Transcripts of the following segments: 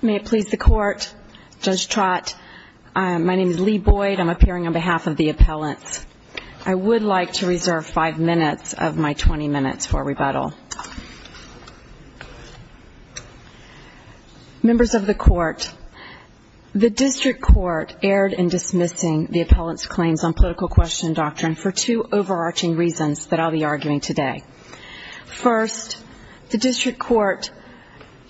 May it please the Court, Judge Trott, my name is Leigh Boyd, I'm appearing on behalf of the appellants. I would like to reserve 5 minutes of my 20 minutes for rebuttal. Members of the Court, the District Court erred in dismissing the appellants' claims on political question doctrine for two overarching reasons that I'll be arguing today. First, the District Court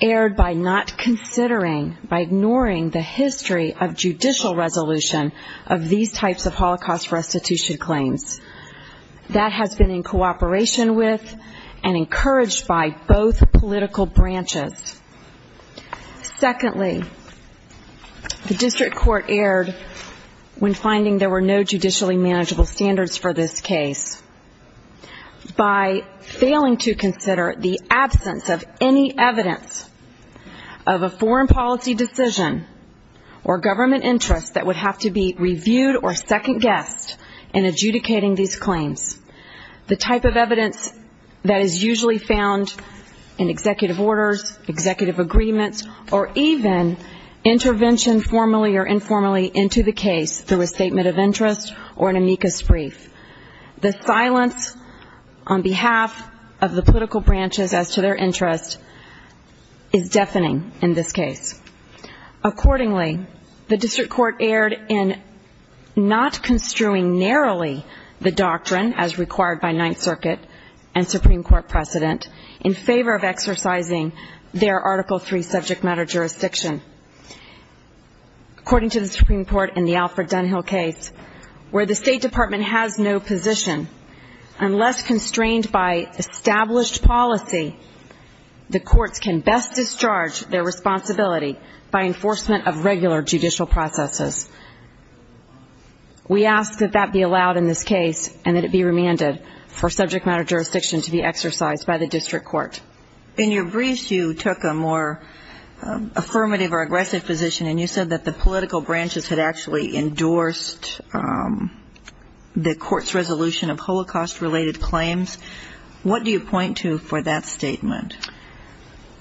erred by not considering, by ignoring the history of judicial resolution of these types of Holocaust restitution claims. That has been in cooperation with and encouraged by both political branches. Secondly, the District Court erred when finding there were no judicially manageable standards for this case. By failing to consider the absence of any evidence of a foreign policy decision or government interest that would have to be reviewed or second guessed in adjudicating these claims. The type of evidence that is usually found in executive orders, executive agreements, or even intervention formally or informally into the case through a statement of interest or an amicus brief. The silence on behalf of the political branches as to their interest is deafening in this case. Accordingly, the District Court erred in not construing narrowly the doctrine as required by Ninth Circuit and Supreme Court precedent in favor of exercising their Article III subject matter jurisdiction. According to the Supreme Court in the Alfred Dunhill case, where the State Department has no position, unless constrained by established policy, the courts can best discharge their responsibility by enforcement of regular judicial processes. We ask that that be allowed in this case and that it be remanded for subject matter jurisdiction to be exercised by the District Court. In your brief, you took a more affirmative or aggressive position, and you said that the political branches had actually endorsed the court's resolution of Holocaust-related claims. What do you point to for that statement?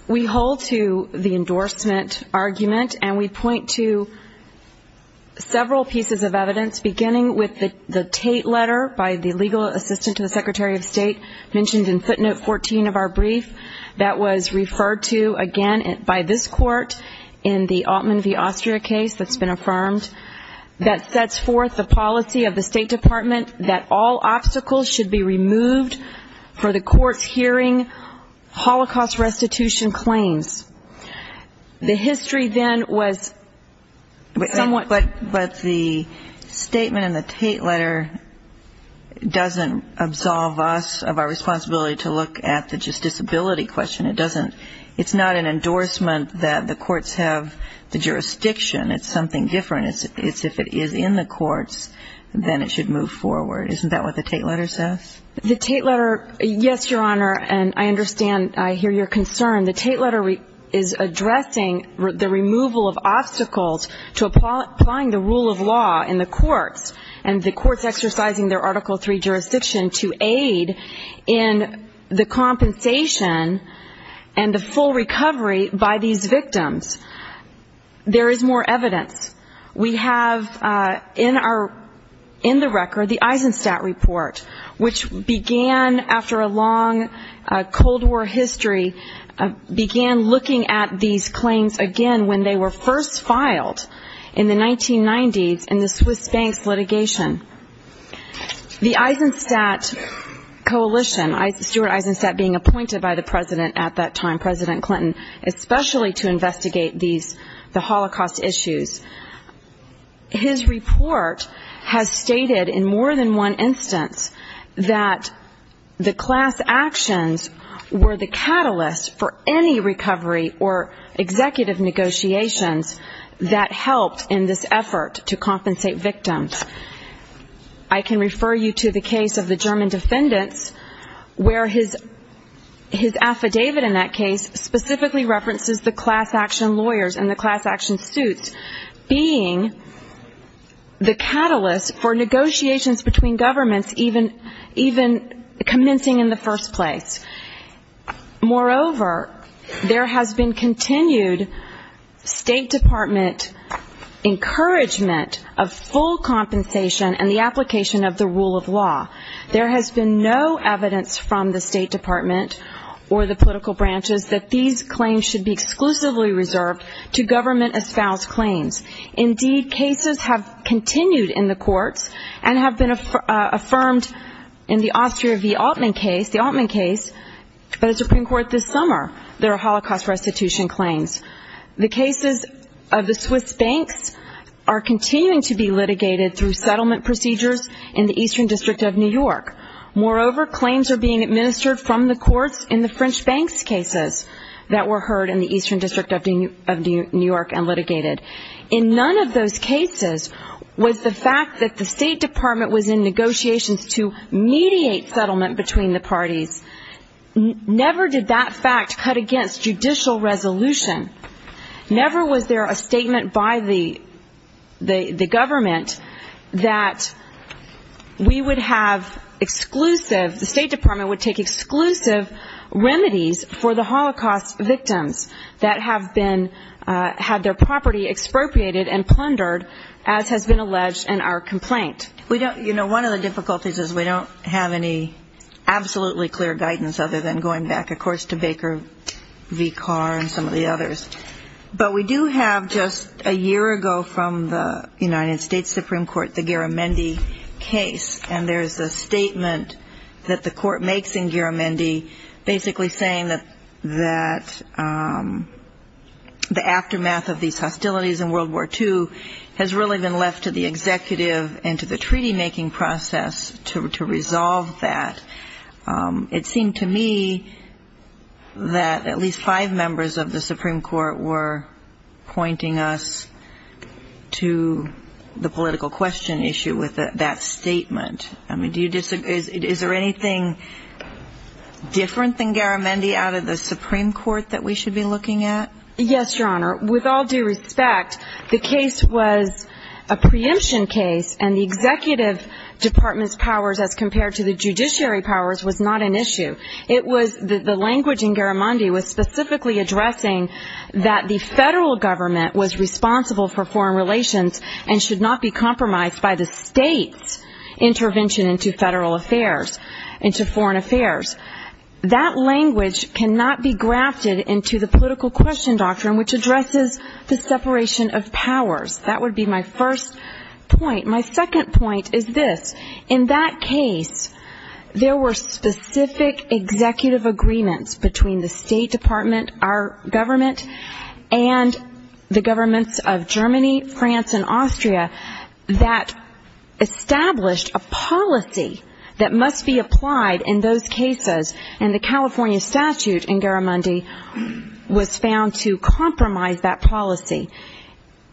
We hold to the endorsement argument, and we point to several pieces of evidence, beginning with the Tate letter by the legal assistant to the Secretary of State, mentioned in footnote 14 of our brief, that was referred to again by this court in the Altman v. Osterer case that's been affirmed, that sets forth the policy of the State Department that all obstacles should be removed for the court's hearing Holocaust restitution claims. The history then was somewhat... But the statement in the Tate letter doesn't absolve us of our responsibility to look at the justiciability question. It doesn't... It's not an endorsement that the courts have the jurisdiction. It's something different. It's if it is in the courts, then it should move forward. Isn't that what the Tate letter says? The Tate letter... Yes, Your Honor, and I understand. I hear your concern. The Tate letter is addressing the removal of obstacles to applying the rule of law in the courts, and the courts exercising their Article III jurisdiction to aid in the compensation and the full recovery by these victims. There is more evidence. We have in the record the Tate letter. We began looking at these claims, again, when they were first filed in the 1990s in the Swiss Banks litigation. The Eisenstadt Coalition, Stuart Eisenstadt being appointed by the President at that time, President Clinton, especially to investigate the Holocaust issues. His report has stated in more than one instance that the class actions were the catalyst for any recovery or executive negotiations that helped in this effort to compensate victims. I can refer you to the case of the German defendants where his affidavit in that case specifically references the class action lawyers and the class action suits being the catalyst for negotiations between governments, even commencing in the first place. Moreover, there has been continued State Department encouragement of full compensation and the application of the rule of law. There has been no evidence from the State Department or the political branches that these claims should be exclusively reserved to government-espoused claims. Indeed, cases have continued in the courts and have been affirmed in the Austria v. Altman case, the Altman case of the Supreme Court this summer. There are Holocaust restitution claims. The cases of the Swiss Banks are continuing to be litigated through settlement procedures in the Eastern District of New York. Moreover, claims are being administered from the courts in the French Banks cases that were heard in the Eastern District of New York and litigated. In none of those cases was the fact that the State Department was in negotiations to mediate settlement between the parties. Never did that fact cut against judicial resolution. Never was there a statement by the government that we would have exclusive, the State Department would take exclusive remedies for the Holocaust victims that have been, had their property expropriated and plundered as has been alleged in our complaint. We don't, you know, one of the difficulties is we don't have any absolutely clear guidance other than going back, of course, to Baker v. Carr and some of the others. But we do have just a year ago from the United States Supreme Court, the Garamendi case, and there's a statement that the court makes in Garamendi basically saying that the aftermath of these was a treaty-making process to resolve that. It seemed to me that at least five members of the Supreme Court were pointing us to the political question issue with that statement. I mean, do you disagree? Is there anything different than Garamendi out of the Supreme Court that we should be looking at? Yes, Your Honor. With all due respect, the case was a preemption case and the Executive Department's powers as compared to the judiciary powers was not an issue. It was, the language in Garamendi was specifically addressing that the federal government was responsible for foreign relations and should not be compromised by the state's intervention into federal affairs, into foreign affairs. That language cannot be grafted into the political question doctrine which addresses the separation of powers. That would be my first point. My second point is this. In that case, there were specific executive agreements between the State Department, our government, and the governments of Germany, France, and Austria that established a policy that must be applied in those cases. And the California statute in Garamendi was found to compromise that policy.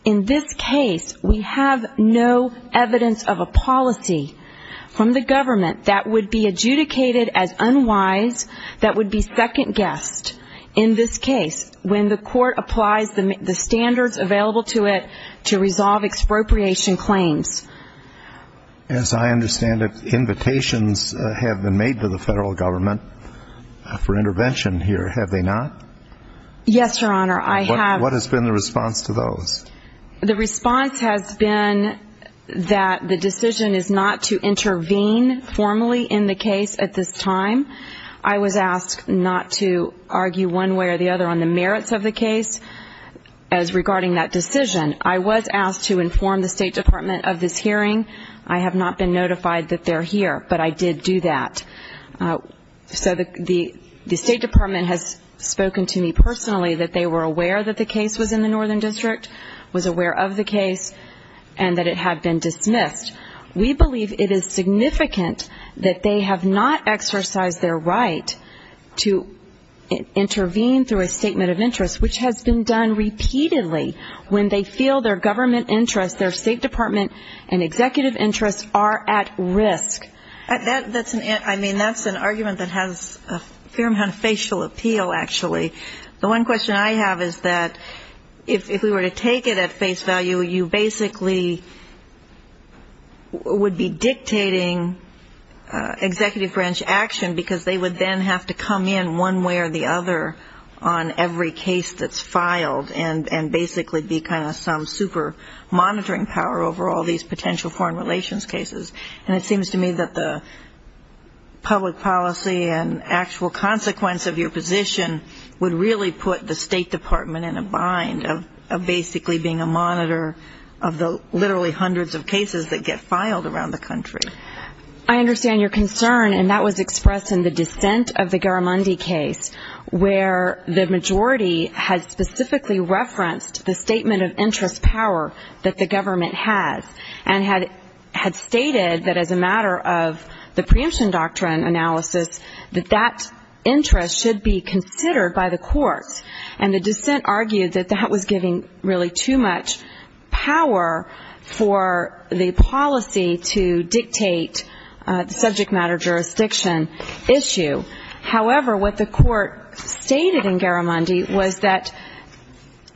In this case, we have no evidence of a policy from the government that would be adjudicated as unwise, that would be second guessed. In this case, when the court applies the standards available to it to resolve expropriation claims. As I understand it, invitations have been made to the federal government for intervention here, have they not? Yes, Your Honor. I have. What has been the response to those? The response has been that the decision is not to intervene formally in the case at this time. I was asked not to argue one way or the other on the merits of the case as regarding that decision. I was asked to inform the State Department of this hearing. I have not been notified that they're here, but I did do that. So the State Department has spoken to me personally that they were aware that the case was in the Northern District, was aware of the case, and that it had been dismissed. We believe it is significant that they have not exercised their right to intervene through a statement of interest, which has been done repeatedly when they feel their government interests, their State Department and executive interests are at risk. That's an argument that has a fair amount of facial appeal, actually. The one question I have is that if we were to take it at face value, you basically would be dictating executive branch action because they would then have to come in one way or the other on every case that's filed and basically be kind of some super monitoring power over all these potential foreign relations cases. And it seems to me that the public policy and actual consequence of your position would really put the State Department in a bind of basically being a monitor of the literally hundreds of cases that get filed around the country. I understand your concern, and that was expressed in the dissent of the Garamundi case, where the majority had specifically referenced the statement of interest power that the government has and had stated that as a matter of the preemption doctrine analysis, that that interest should be considered by the court. And the dissent argued that that was giving really too much power for the policy to dictate the subject matter jurisdiction issue. However, what the court stated in Garamundi was that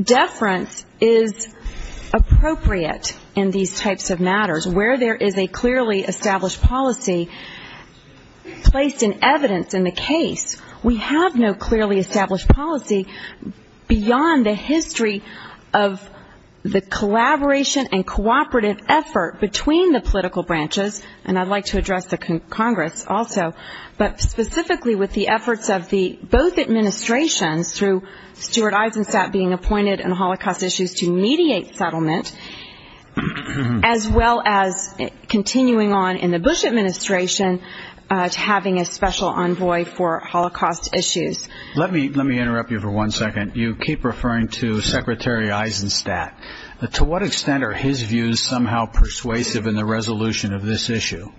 deference is appropriate in these types of matters. Where there is a clearly established policy placed in evidence in the case, we have no clearly established policy beyond the history of the collaboration and cooperative effort between the political branches, and I'd like to address the Congress also, but specifically with the efforts of both administrations through Stuart Eisenstat being appointed and Holocaust issues to mediate settlement, as well as continuing on in the envoy for Holocaust issues. Let me interrupt you for one second. You keep referring to Secretary Eisenstat. To what extent are his views somehow persuasive in the resolution of this issue?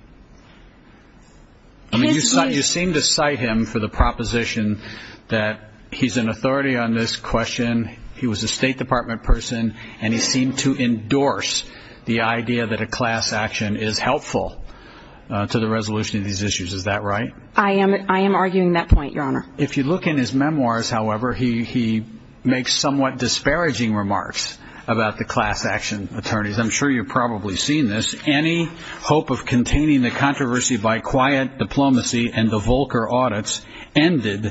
You seem to cite him for the proposition that he's an authority on this question, he was a State Department person, and he seemed to endorse the idea that a class action is helpful to the resolution of these issues. Is that right? I am arguing that point, Your Honor. If you look in his memoirs, however, he makes somewhat disparaging remarks about the class action attorneys. I'm sure you've probably seen this. Any hope of containing the controversy by quiet diplomacy and the Volcker audits ended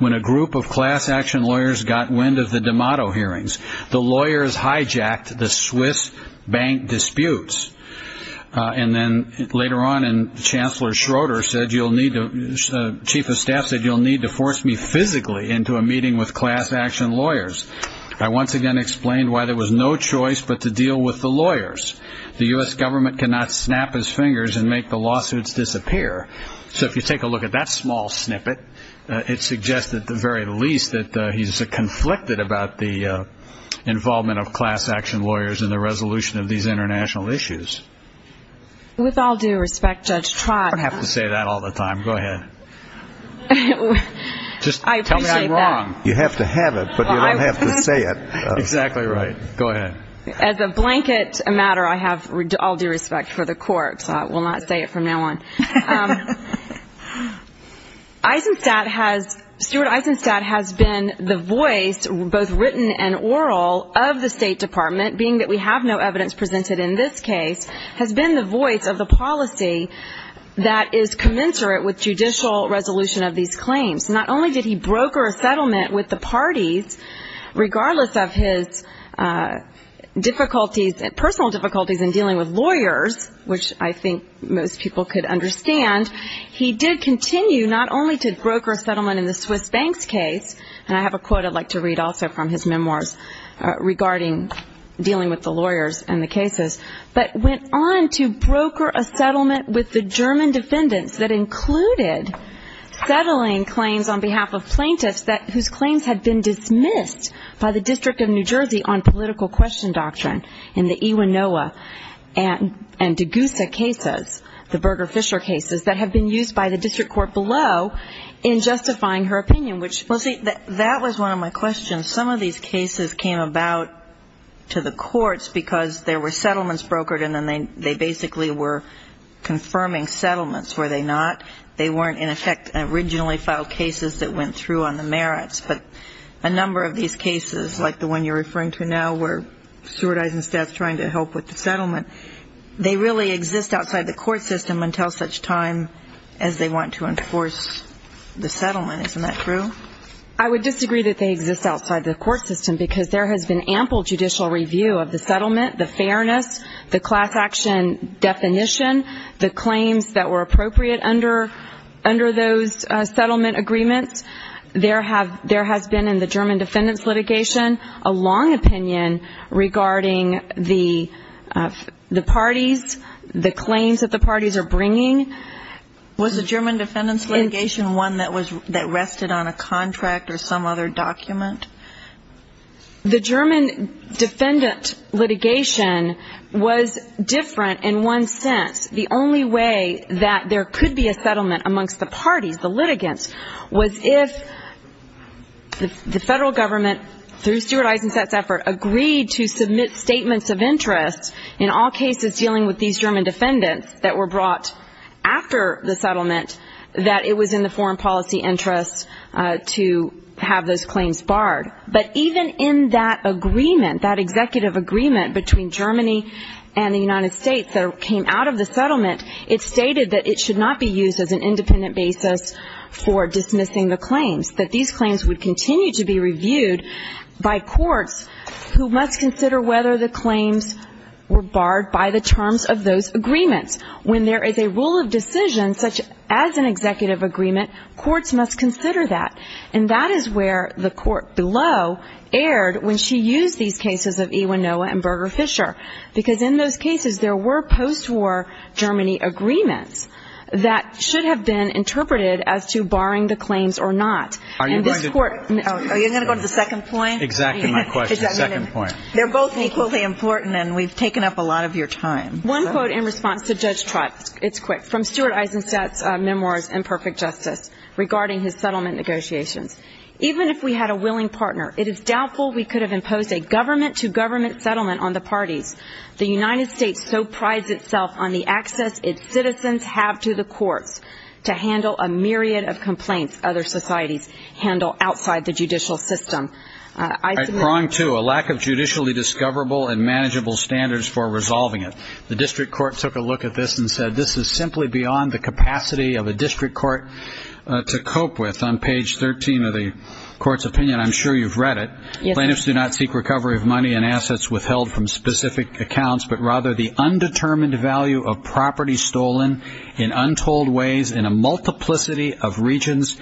when a group of class action lawyers got wind of the D'Amato hearings. The lawyers hijacked the Swiss bank disputes, and then Chief of Staff said you'll need to force me physically into a meeting with class action lawyers. I once again explained why there was no choice but to deal with the lawyers. The U.S. government cannot snap his fingers and make the lawsuits disappear. So if you take a look at that small snippet, it suggests at the very least that he's conflicted about the involvement of class action lawyers in the resolution of these international issues. With all due respect, Judge Trott... I have to say that all the time. Go ahead. Just tell me I'm wrong. You have to have it, but you don't have to say it. Exactly right. Go ahead. As a blanket matter, I have all due respect for the court, so I will not say it from now on. Eisenstadt has... Stuart Eisenstadt has been the voice, both written and oral, of the State Department, being that we have no evidence presented in this case, has been the voice of the policy that is commensurate with judicial resolution of these claims. Not only did he broker a settlement with the parties, regardless of his difficulties, personal difficulties, in dealing with lawyers, which I think most people could understand, he did continue not only to broker a settlement in the Swiss banks case, and I have a quote I'd like to read also from his memoirs regarding dealing with the lawyers and the cases, but went on to broker a settlement with the German defendants that included settling claims on behalf of plaintiffs whose claims had been dismissed by the District of New Jersey on political question doctrine in the Iwanoa and Degusa cases, the Berger-Fisher cases, that have been used by the District Court below in justifying her opinion, which... And some of these cases came about to the courts because there were settlements brokered and then they basically were confirming settlements, were they not? They weren't, in effect, originally filed cases that went through on the merits, but a number of these cases, like the one you're referring to now, where Stuart Eisenstadt's trying to help with the settlement, they really exist outside the court system until such time as they want to enforce the settlement. Isn't that true? I would disagree that they exist outside the court system because there has been ample judicial review of the settlement, the fairness, the class action definition, the claims that were appropriate under those settlement agreements. There has been, in the German defendants litigation, a long opinion regarding the parties, the claims that the parties are bringing. Was the German defendants litigation one that rested on a contract or some other document? The German defendants litigation was different in one sense. The only way that there could be a settlement amongst the parties, the litigants, was if the federal government, through Stuart Eisenstadt's effort, agreed to submit statements of interest in all cases dealing with these after the settlement, that it was in the foreign policy interest to have those claims barred. But even in that agreement, that executive agreement between Germany and the United States that came out of the settlement, it stated that it should not be used as an independent basis for dismissing the claims, that these claims would continue to be reviewed by courts who must consider whether the claims were barred by the terms of those agreements. When there is a rule of decision, such as an executive agreement, courts must consider that. And that is where the court below erred when she used these cases of E. Winoa and Berger-Fisher. Because in those cases, there were postwar Germany agreements that should have been interpreted as to barring the claims or not. Are you going to go to the second point? Exactly my question. The second point. They're both equally important, and we've taken up a lot of your time. One quote in response to Judge Trott. It's quick. From Stuart Eizenstat's memoir, Imperfect Justice, regarding his settlement negotiations. Even if we had a willing partner, it is doubtful we could have imposed a government-to-government settlement on the parties. The United States so prides itself on the access its citizens have to the courts to handle a myriad of complaints other societies handle outside the judicial system. Wrong too. A lack of judicially discoverable and manageable standards for resolving it. The district court took a look at this and said this is simply beyond the capacity of a district court to cope with. On page 13 of the court's opinion, I'm sure you've read it. Plaintiffs do not seek recovery of money and assets withheld from specific accounts, but rather the undetermined value of property stolen in untold ways in a multiplicity of billions.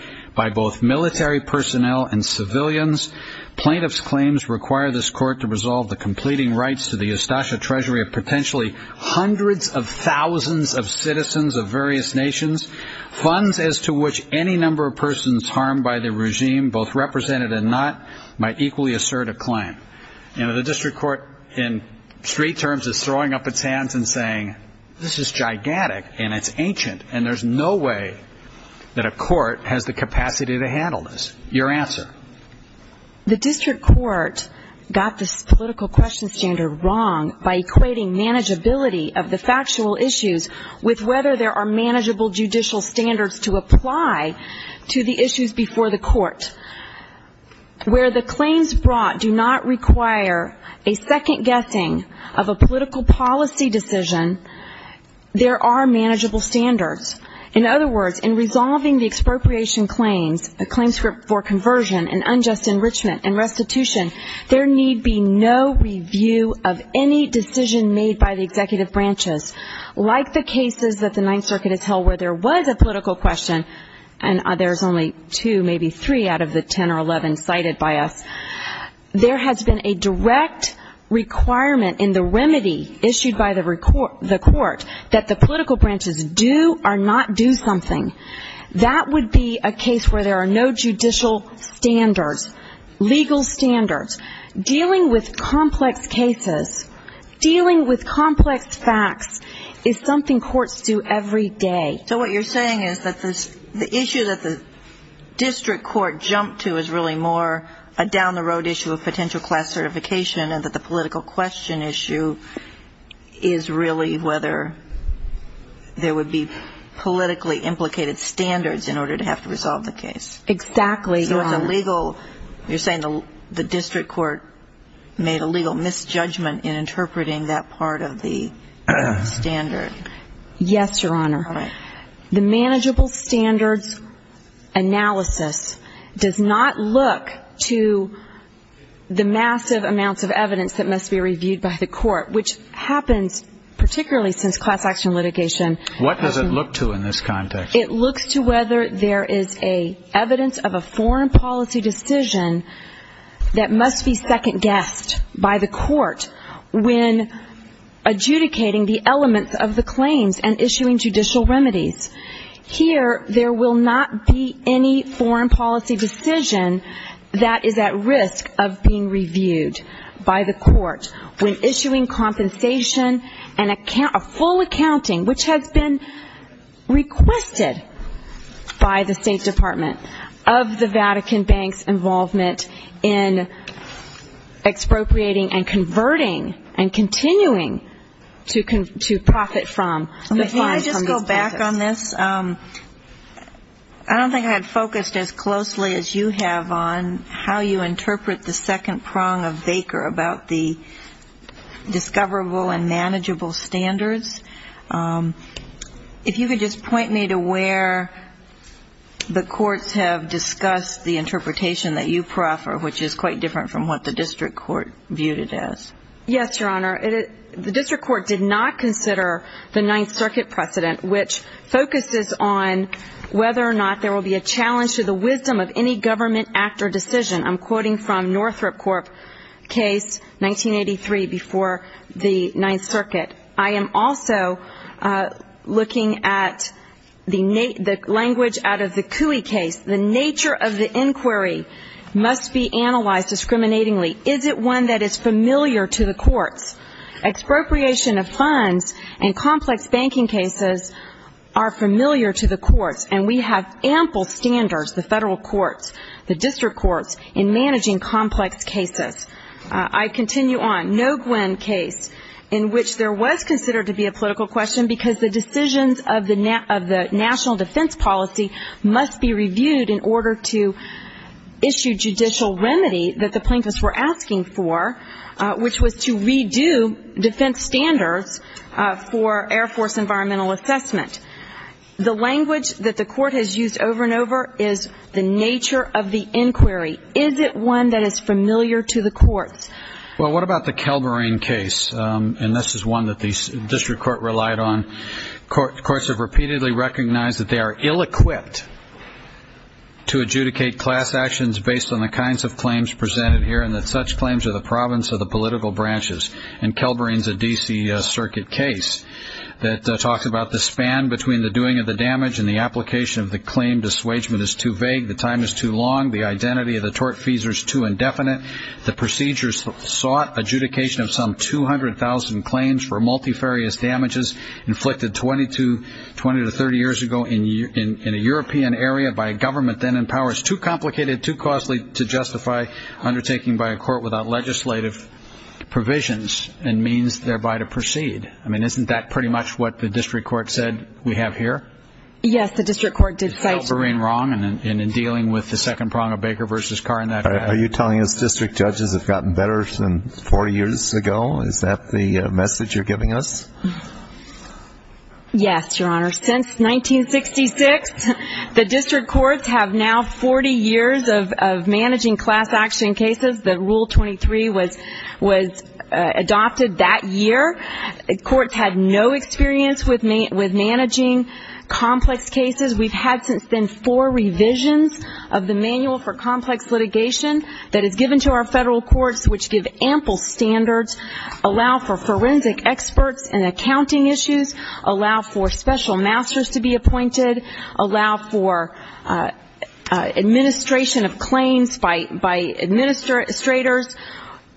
Plaintiffs' claims require this court to resolve the completing rights to the Ustasha treasury of potentially hundreds of thousands of citizens of various nations. Funds as to which any number of persons harmed by the regime, both represented and not, might equally assert a claim. You know, the district court, in street terms, is throwing up its hands and saying, this is gigantic, and it's ancient, and there's no way that a court has the capacity to handle this. Your answer? The district court got the political question standard wrong by equating manageability of the factual issues with whether there are manageable judicial standards to apply to the issues before the court. Where the claims brought do not require a second guessing of a political policy decision, there are manageable standards. In other words, in resolving the expropriation claims, the claims for conversion and unjust enrichment and restitution, there need be no review of any decision made by the executive branches. Like the cases at the Ninth Circuit as hell where there was a political question, and there's only two, maybe three out of the ten or eleven cited by us, there has been a direct requirement in the remedy issued by the court that the political branches do or not do something. That would be a case where there are no judicial standards, legal standards. Dealing with complex cases, dealing with complex facts, is something courts do every day. So what you're saying is that the issue that the district court jumped to is really more a down-the-road issue of potential class certification and that the political question issue is really whether there would be politically implicated standards in order to have to resolve the case. Exactly. So it's a legal, you're saying the district court made a legal misjudgment in interpreting that part of the standard. Yes, Your Honor. The manageable standards analysis does not look to the massive amounts of evidence that must be reviewed by the court, which happens particularly since class action litigation. What does it look to in this context? It looks to whether there is evidence of a foreign policy decision that must be second guessed by the court when adjudicating the elements of the claims and issuing judicial remedies. Here, there will not be any foreign policy decision that is at risk of being reviewed by the court when issuing compensation and full accounting, which has been requested by the State Department of the Vatican Bank's involvement in expropriating and converting and continuing to profit from the funds from the state. Can I go back on this? I don't think I had focused as closely as you have on how you interpret the second prong of Baker about the discoverable and manageable standards. If you could just point me to where the courts have discussed the interpretation that you prefer, which is quite different from what the district court viewed it as. Yes, Your Honor. The district court did not consider the Ninth Circuit precedent, which focuses on whether or not there will be a challenge to the wisdom of any government act or decision. I'm quoting from Northrop Corp.'s case, 1983, before the Ninth Circuit. I am also looking at the language out of the Cooey case. The nature of the inquiry must be analyzed discriminatingly. Is it one that is familiar to the courts? Expropriation of funds and complex banking cases are familiar to the courts, and we have ample standards, the federal courts, the district courts, in managing complex cases. I continue on. No Gwinn case, in which there was considered to be a political question because the decisions of the national defense policy must be reviewed in order to issue judicial remedy that the plaintiffs were asking for, which was to redo defense standards for Air Force environmental assessment. The language that the court has used over and over is the nature of the inquiry. Is it one that is familiar to the courts? Well, what about the Calvary case? And this is one that the district court relied on. The courts have repeatedly recognized that they are ill-equipped to adjudicate class actions based on the kinds of claims presented here, and that such claims are the province of the political branches. And Calvary is a D.C. Circuit case that talks about the span between the doing of the damage and the application of the claim. The assuagement is too vague. The time is too long. The identity of the tortfeasor is too indefinite. The procedures sought adjudication of some 200,000 claims for multifarious damages inflicted 20 to 30 years ago in a European area by a government then in power is too complicated, too costly to justify undertaking by a court without legislative provisions and means thereby to proceed. I mean, isn't that pretty much what the district court said we have here? Yes, the district court did. It's Calvary and wrong in dealing with the second prong of Baker v. Carr in that regard. Are you telling us district judges have gotten better since 40 years ago? Is that the message you're giving us? Yes, Your Honor. Since 1966, the district courts have now 40 years of managing class action cases. The Rule 23 was adopted that year. Courts had no experience with managing complex cases. We've had since then four revisions of the Manual for Complex Litigation that are given to our federal courts which give ample standards, allow for forensic experts and accounting issues, allow for special masters to be appointed, allow for administration of claims by administrators.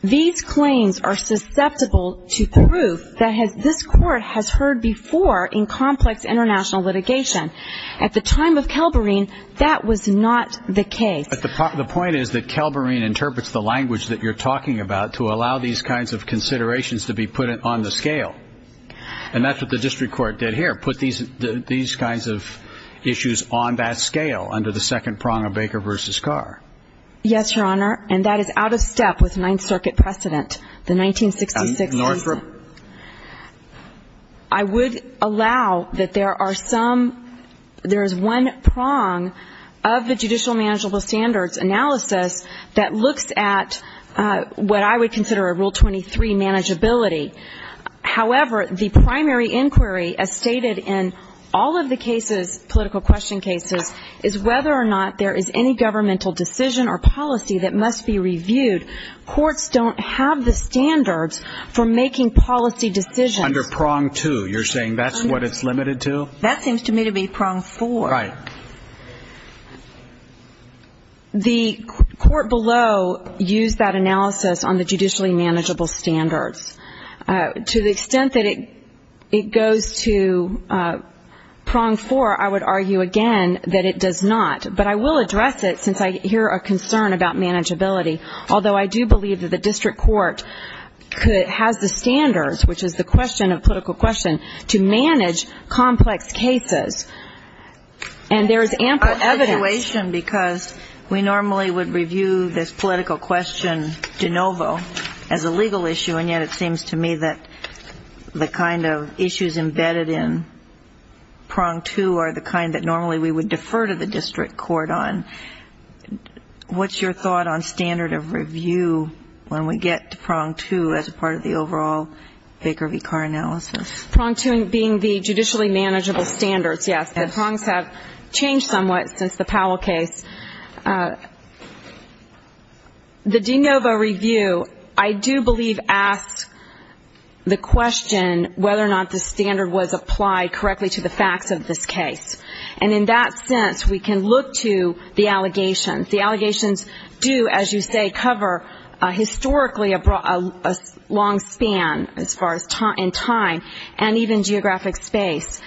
These claims are susceptible to proof that this court has heard before in complex international litigation. At the time of Calvary, that was not the case. But the point is that Calvary interprets the language that you're talking about to allow these kinds of considerations to be put on the scale. And that's what the district court did here, put these kinds of issues on that scale under the second prong of Baker v. Carr. Yes, Your Honor. And that is out of step with Ninth Circuit precedent, the 1966. North River. I would allow that there are some, there is one prong of the judicial manageable standards analysis that looks at what I would consider a Rule 23 manageability. However, the primary inquiry as stated in all of the cases, political question cases, is whether or not there is any governmental decision or policy that must be reviewed. Courts don't have the standards for making policy decisions. Under prong two, you're saying that's what it's limited to? That seems to me to be prong four. Right. The court below used that analysis on the judicially manageable standards. To the extent that it goes to prong four, I would argue again that it does not. But I will address it since I hear a concern about manageability. Although I do believe that the district court could have the standards, which is the question of political question, to manage complex cases. And there is ample eviduation because we normally would review this political question de novo as a legal issue, and yet it seems to me that the kind of issues embedded in prong two are the kind that normally we would defer to the district court on. What's your thought on standard of review when we get to prong two as a part of the overall Baker v. Carr analysis? Prong two being the judicially manageable standards, yes. The prongs have changed somewhat since the Powell case. The de novo review, I do believe, asks the question whether or not the standard was applied correctly to the facts of this case. And in that sense, we can look to the allegations. The allegations do, as you say, cover historically a long span, as far as time, and even geographic space.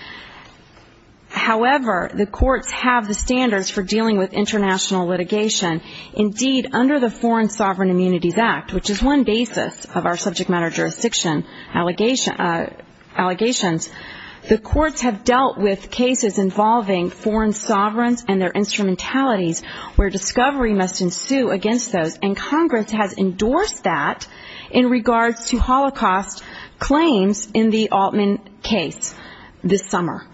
However, the courts have the standards for dealing with international litigation. Indeed, under the Foreign Sovereign Immunities Act, which is one basis of our subject matter jurisdiction allegations, the courts have dealt with cases involving foreign sovereigns and their instrumentalities where discovery must ensue against those, and Congress has endorsed that in regards to Holocaust claims in the Altman case this summer.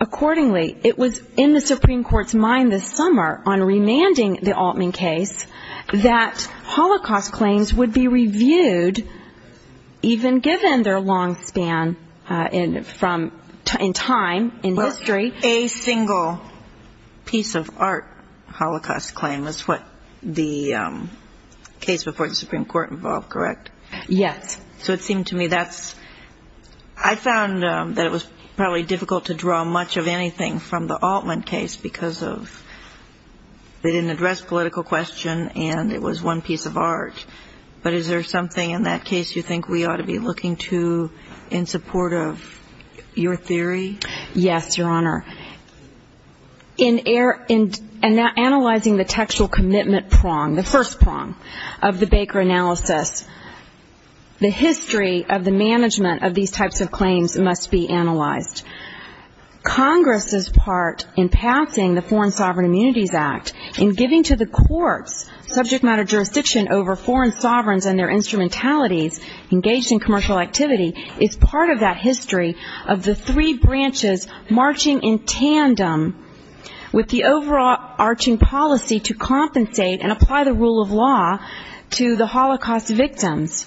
Accordingly, it was in the Supreme Court's mind this summer on remanding the Altman case that Holocaust claims would be reviewed, even given their long span in time and history. Well, a single piece of art Holocaust claim was what the case before the Supreme Court involved, correct? Yes. So it seemed to me that's, I found that it was probably difficult to draw much of anything from the Altman case because of they didn't address political question and it was one piece of art. But is there something in that case you think we ought to be looking to in support of your theory? Yes, Your Honor. In analyzing the textual commitment prong, the first prong of the Baker analysis, the history of the management of these types of claims must be analyzed. Congress has part in passing the Foreign Sovereign Immunities Act and giving to the court subject matter jurisdiction over foreign sovereigns and their instrumentalities engaged in commercial activity is part of that history of the three branches marching in tandem with the overall arching policy to compensate and apply the rule of law to the Holocaust victims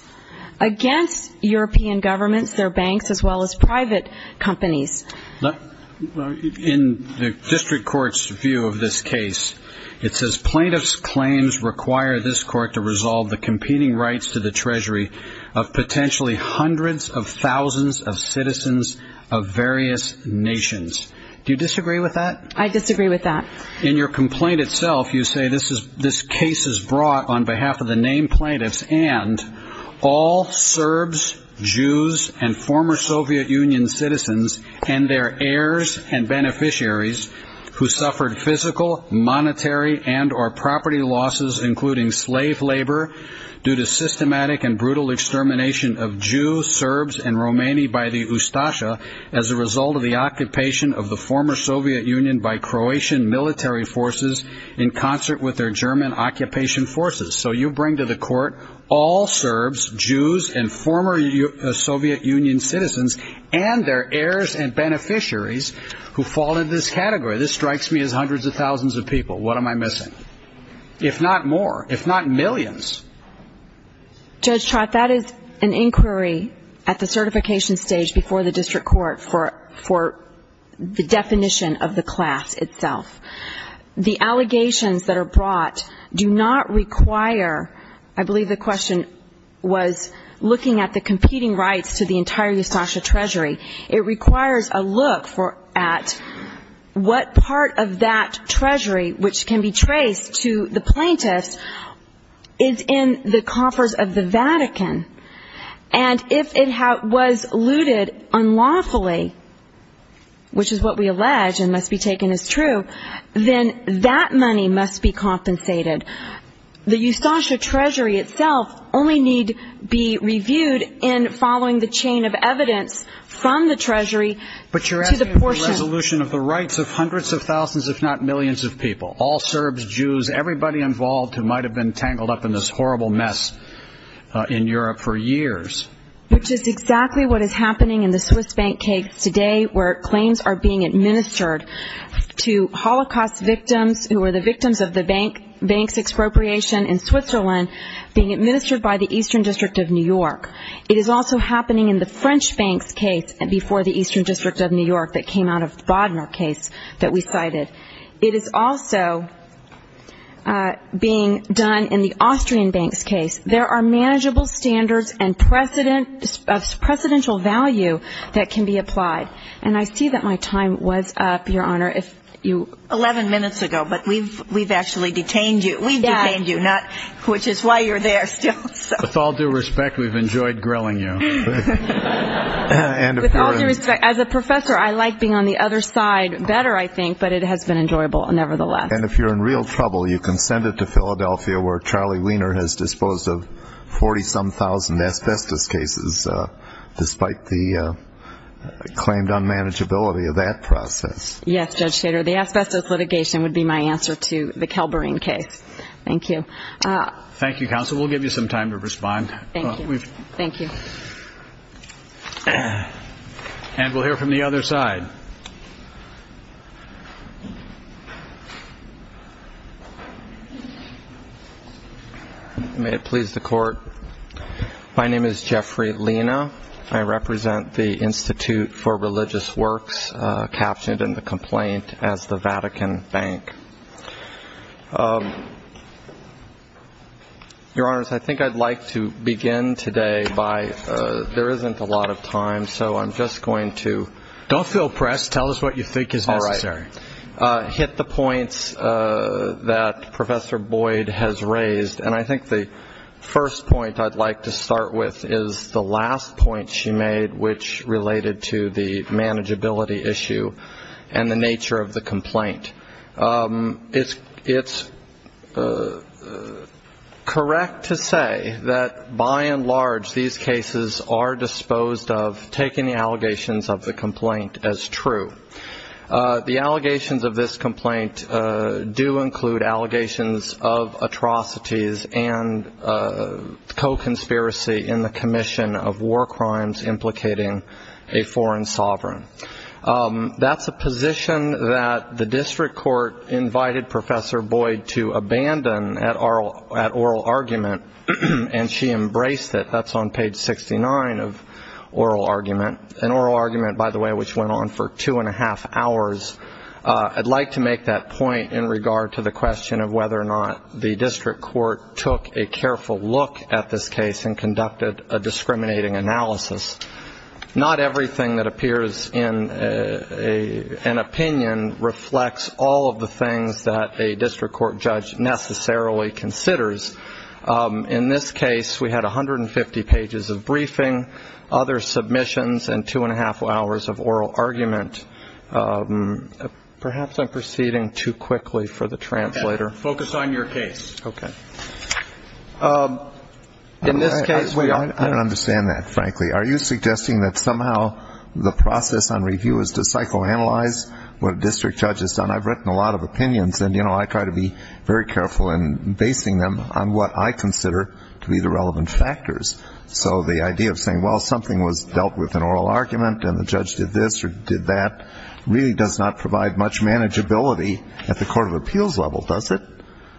against European governments, their banks, as well as private companies. In the district court's view of this case, it says plaintiff's claims require this court to resolve the competing rights to the treasury of potentially hundreds of thousands of citizens of various nations. Do you disagree with that? I disagree with that. In your complaint itself, you say this case is brought on behalf of the named plaintiffs and all Serbs, Jews and former Soviet Union citizens and their heirs and beneficiaries who suffered physical, monetary and or property losses, including slave labor due to systematic and brutal extermination of Jews, Serbs and Romani by the Ustasha as a result of the occupation of the former Soviet Union by Croatian military forces in concert with their German occupation forces. So you bring to the court all Serbs, Jews and former Soviet Union citizens and their heirs and beneficiaries who fall in this category. This strikes me as hundreds of thousands of people. What am I missing? If not more, if not millions. Judge Trott, that is an inquiry at the certification stage before the district court for the definition of the class itself. The allegations that are brought do not require, I believe the question was looking at the competing rights to the entire Ustasha treasury. It requires a look at what part of that treasury which can be traced to the plaintiffs is in the true, then that money must be compensated. The Ustasha treasury itself only needs to be reviewed in following the chain of evidence from the treasury to the portion... But you are asking for the resolution of the rights of hundreds of thousands, if not millions of people. All Serbs, Jews, everybody involved who might have been tangled up in this horrible mess in Europe for years. Which is exactly what is happening in the Swiss Bank case today where claims are being administered to Holocaust victims who are the victims of the bank's expropriation in Switzerland being administered by the Eastern District of New York. It is also happening in the French Bank's case before the Eastern District of New York that came out of Bodmer case that we cited. It is also being done in the Austrian Bank's case. There are manageable standards and precedential value that can be applied. And I see that my time was up, Your Honor. Eleven minutes ago, but we've actually detained you. We detained you, which is why you're there still. With all due respect, we've enjoyed grilling you. As a professor, I like being on the other side better, I think, but it has been enjoyable nevertheless. And if you're in real trouble, you can send it to Philadelphia where Charlie Weiner has cases despite the claimed unmanageability of that process. Yes, Judge Kater. The FSS litigation would be my answer to the Calberin case. Thank you. Thank you, counsel. We'll give you some time to respond. Thank you. And we'll hear from the other side. May it please the court. My name is Jeffrey Lina. I represent the Institute for Religious Works captioned in the complaint as the Vatican Bank. Your Honors, I think I'd like to begin today by there isn't a lot of time, so I'm just All right. Hit the points that Professor Boyd has raised, and I think the first point I'd like to start with is the last point she made, which related to the manageability issue and the nature of the complaint. It's correct to say that, by and large, these cases are disposed of, taking the allegations of the complaint as true. The allegations of this complaint do include allegations of atrocities and co-conspiracy in the commission of war crimes implicating a foreign sovereign. That's a position that the district court invited Professor Boyd to abandon at oral and she embraced it. That's on page 69 of oral argument, an oral argument, by the way, which went on for two and a half hours. I'd like to make that point in regard to the question of whether or not the district court took a careful look at this case and conducted a discriminating analysis. Not everything that appears in an opinion reflects all of the things that a district court judge necessarily considers. In this case, we had 150 pages of briefing, other submissions, and two and a half hours of oral argument. Perhaps I'm proceeding too quickly for the translator. Focus on your case. Okay. In this case- I don't understand that, frankly. Are you suggesting that somehow the process on review is to psychoanalyze what a district judge has done? I've written a lot of opinions and, you know, I try to be very careful in basing them on what I consider to be the relevant factors. So the idea of saying, well, something was dealt with in oral argument and the judge did this or did that really does not provide much manageability at the court of appeals level, does it?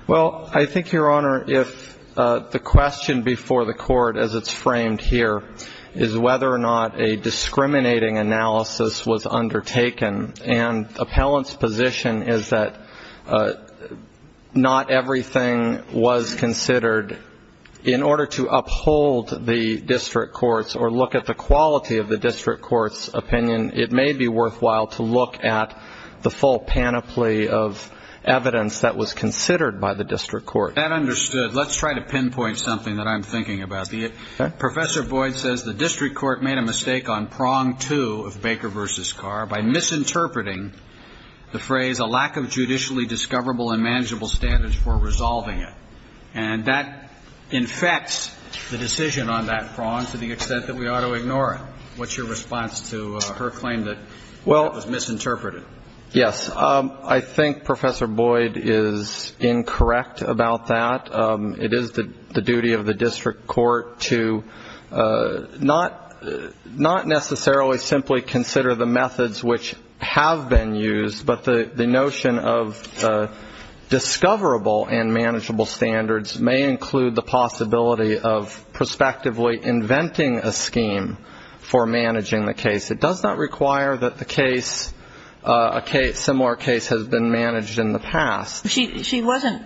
Well, I think, Your Honor, if the question before the court as it's framed here is whether or not a discriminating analysis was undertaken, and appellant's position is that not everything was considered. In order to uphold the district court's or look at the quality of the district court's opinion, it may be worthwhile to look at the full panoply of evidence that was considered by the district court. That understood. Let's try to pinpoint something that I'm thinking about. Professor Boyd says the district court made a mistake on prong two of Baker v. Carr by misinterpreting the phrase a lack of judicially discoverable and manageable standards for resolving it. And that infects the decision on that prong to the extent that we ought to ignore it. What's your response to her claim that it was misinterpreted? Yes, I think Professor Boyd is incorrect about that. It is the duty of the district court to not necessarily simply consider the methods which have been used, but the notion of discoverable and manageable standards may include the possibility of prospectively inventing a scheme for managing the case. It does not require that a similar case has been managed in the past. She wasn't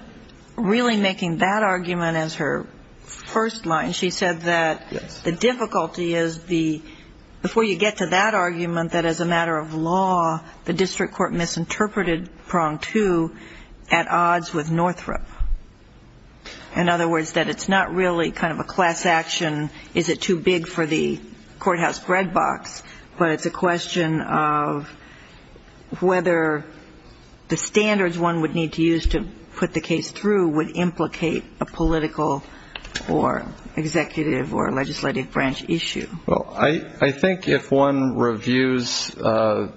really making that argument as her first line. She said that the difficulty is before you get to that argument, that as a matter of law, the district court misinterpreted prong two at odds with Northrop. In other words, that it's not really kind of a class action, is it too big for the courthouse Greg box, but it's a question of whether the standards one would need to use to put the case through would implicate a political or executive or legislative branch issue. Well, I think if one reviews the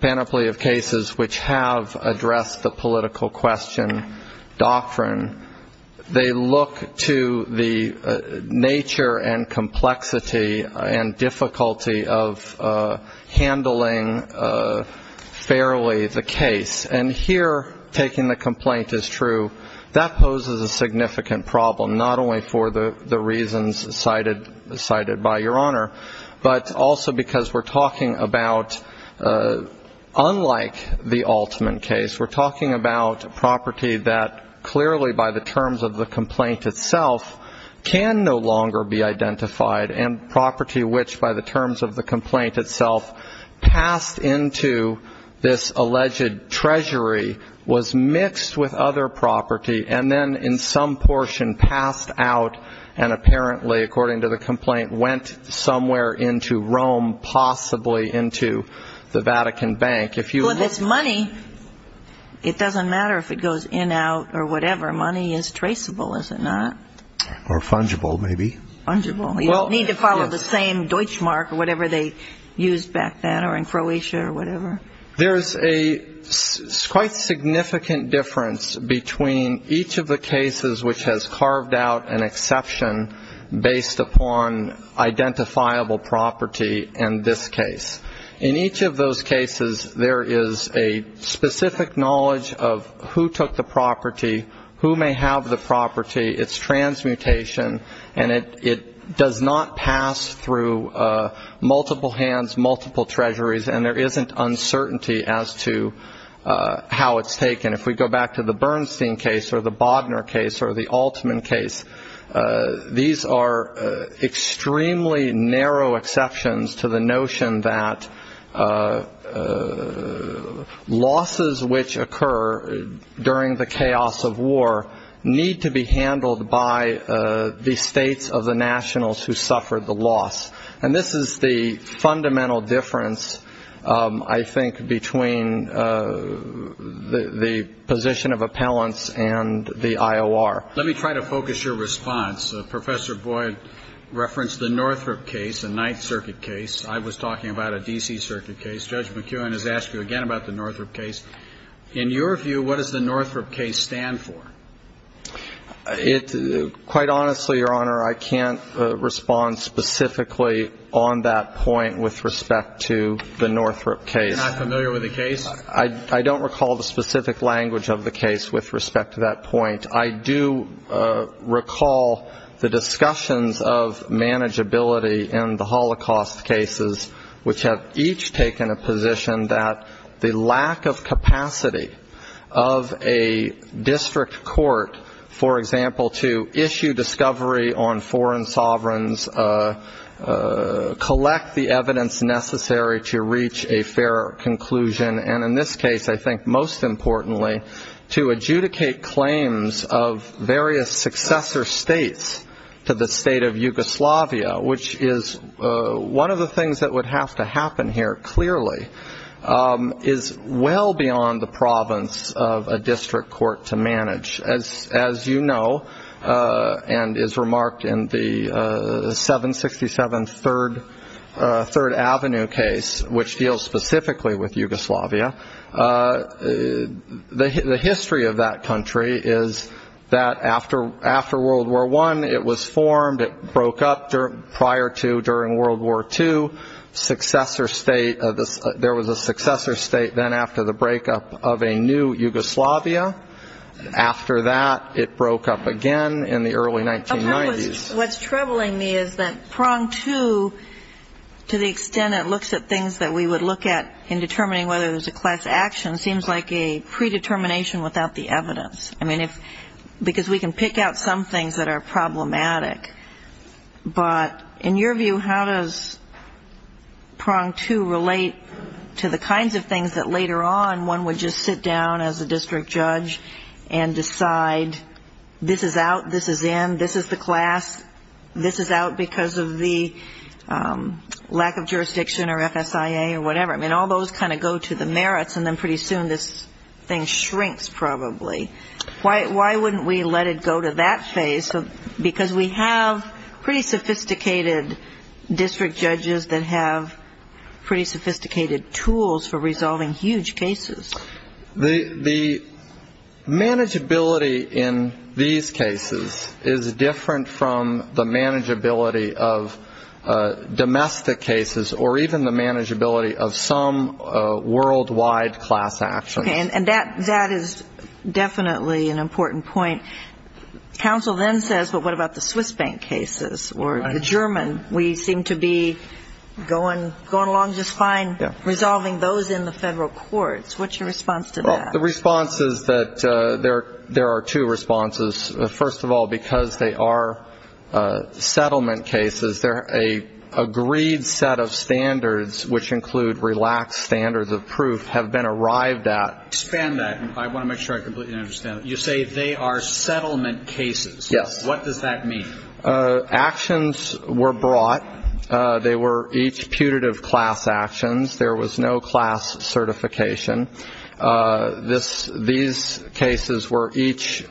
panoply of cases which have addressed the political question doctrine, they look to the nature and complexity and difficulty of handling fairly the case. And here, taking the complaint as true, that poses a significant problem, not only for the reasons cited by Your Honor, but also because we're talking about, unlike the ultimate case, we're talking about property that clearly, by the terms of the complaint itself, can no longer be identified, and property which, by the terms of the complaint itself, passed into this alleged treasury was mixed with other property and then in some portion passed out and apparently, according to the complaint, went somewhere into Rome, possibly into the Vatican Bank. Well, if it's money, it doesn't matter if it goes in, out, or whatever. Money is traceable, is it not? Or fungible, maybe. Fungible. You don't need to follow the same Deutschmark or whatever they used back then or in Croatia or whatever. There's a quite significant difference between each of the cases which has carved out an exception based upon identifiable property in this case. In each of those cases, there is a specific knowledge of who took the property, who may have the property, its transmutation, and it does not pass through multiple hands, multiple treasuries, and there isn't uncertainty as to how it's taken. If we go back to the Bernstein case or the Bodner case or the Altman case, these are extremely narrow exceptions to the notion that losses which occur during the chaos of war need to be handled by the states of the nationals who suffered the loss. And this is the fundamental difference, I think, between the position of appellants and the IOR. Let me try to focus your response. Professor Boyd referenced the Northrop case, the Ninth Circuit case. I was talking about a D.C. Circuit case. Judge McKeown has asked you again about the Northrop case. In your view, what does the Northrop case stand for? Quite honestly, Your Honor, I can't respond specifically on that point with respect to the Northrop case. You're not familiar with the case? I don't recall the specific language of the case with respect to that point. I do recall the discussions of manageability in the Holocaust cases, which have each taken a position that the lack of capacity of a district court, for example, to issue discovery on foreign sovereigns, collect the evidence necessary to reach a fair conclusion, and in this case, I think most importantly, to adjudicate claims of various successor states to the state of Yugoslavia, which is one of the things that would have to happen here clearly, is well beyond the province of a district court to manage. As you know, and is remarked in the 767 Third Avenue case, which deals specifically with Yugoslavia, the history of that country is that after World War I, it was formed. It broke up prior to during World War II. There was a successor state then after the breakup of a new Yugoslavia. After that, it broke up again in the early 1990s. What's troubling me is that prong two, to the extent it looks at things that we would look at in determining whether it was a class action, seems like a predetermination without the evidence, because we can pick out some things that are problematic. But in your view, how does prong two relate to the kinds of things that later on, one would just sit down as a district judge and decide this is out, this is in, this is the class, this is out because of the lack of jurisdiction or FSIA or whatever. I mean, all those kind of go to the merits, and then pretty soon this thing shrinks probably. Why wouldn't we let it go to that phase, because we have pretty sophisticated district judges that have pretty sophisticated tools for resolving huge cases. The manageability in these cases is different from the manageability of domestic cases or even the manageability of some worldwide class action. And that is definitely an important point. Counsel then says, well, what about the Swiss bank cases or the German? We seem to be going along just fine resolving those in the federal courts. What's your response to that? The response is that there are two responses. First of all, because they are settlement cases, they're an agreed set of standards, which include relaxed standards of proof, have been arrived at. Expand that. I want to make sure I completely understand. You say they are settlement cases. Yes. What does that mean? Actions were brought. They were each putative class actions. There was no class certification. These cases were each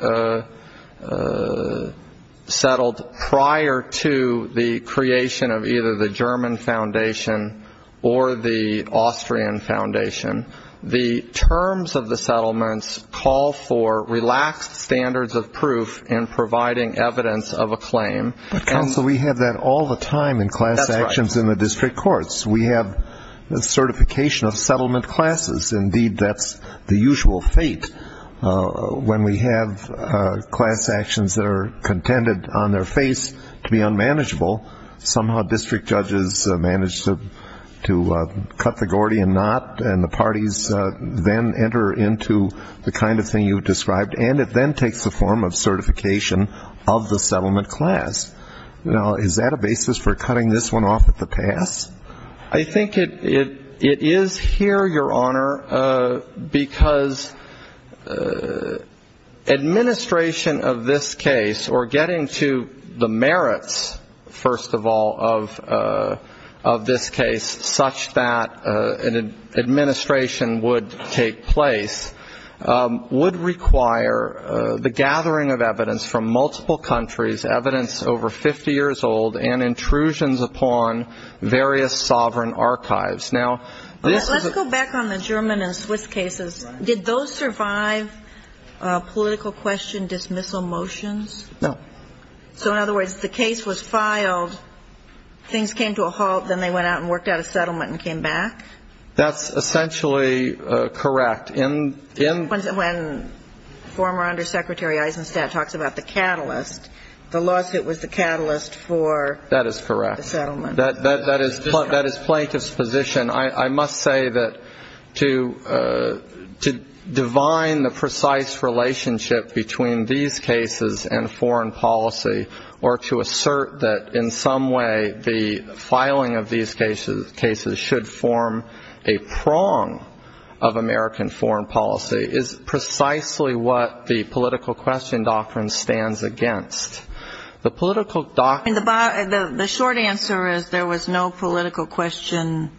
settled prior to the creation of either the German foundation or the Austrian foundation. The terms of the settlements call for relaxed standards of proof and providing evidence of a claim. Counsel, we have that all the time in class actions in the district courts. We have certification of settlement classes. Indeed, that's the usual fate. When we have class actions that are contended on their face to be unmanageable, somehow district judges manage to cut the Gordian knot, and the parties then enter into the kind of thing you've described, and it then takes the form of certification of the settlement class. Is that a basis for cutting this one off at the pass? I think it is here, Your Honor, because administration of this case or getting to the merits, first of all, of this case, such that an administration would take place, would require the gathering of evidence from multiple countries, evidence over 50 years old, and intrusions upon various sovereign archives. Let's go back on the German and Swiss cases. Did those survive political question dismissal motions? No. So, in other words, the case was filed, things came to a halt, then they went out and worked out a settlement and came back? That's essentially correct. When former Undersecretary Eisenstadt talks about the catalyst, the lawsuit was the catalyst for the settlement. That is correct. That is Plankett's position. I must say that to divine the precise relationship between these cases and foreign policy or to assert that in some way the filing of these cases should form a prong of American foreign policy is precisely what the political question doctrine stands against. The political doctrine- The short answer is there was no political question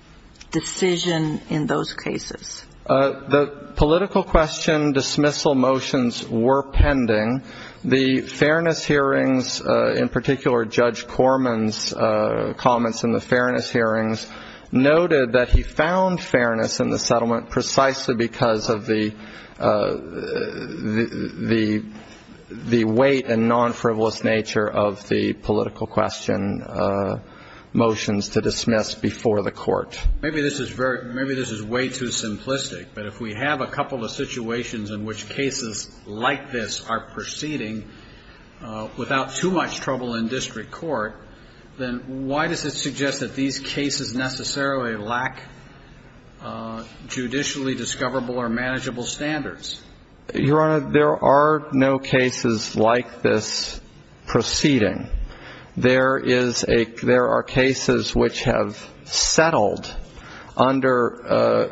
decision in those cases. The political question dismissal motions were pending. The fairness hearings, in particular Judge Corman's comments in the fairness hearings, noted that he found fairness in the settlement precisely because of the weight and non-frivolous nature of the political question motions to dismiss before the court. Maybe this is way too simplistic, but if we have a couple of situations in which cases like this are proceeding without too much trouble in district court, then why does it suggest that these cases necessarily lack judicially discoverable or manageable standards? Your Honor, there are no cases like this proceeding. There are cases which have settled under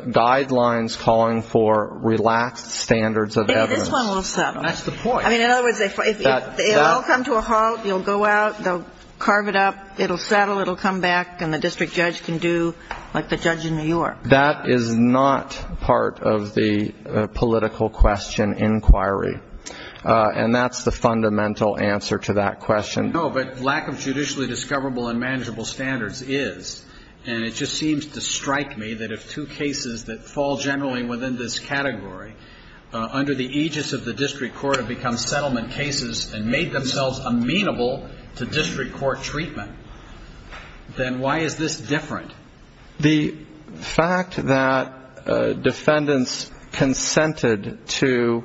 guidelines calling for relaxed standards of evidence. This one will settle. That's the point. In other words, it will come to a halt. It will go out. They'll carve it up. It will settle. It will come back, and the district judge can do what the judge in New York. That is not part of the political question inquiry, and that's the fundamental answer to that question. No, but lack of judicially discoverable and manageable standards is, and it just seems to strike me that if two cases that fall generally within this category, under the aegis of the district court have become settlement cases and made themselves amenable to district court treatment, then why is this different? The fact that defendants consented to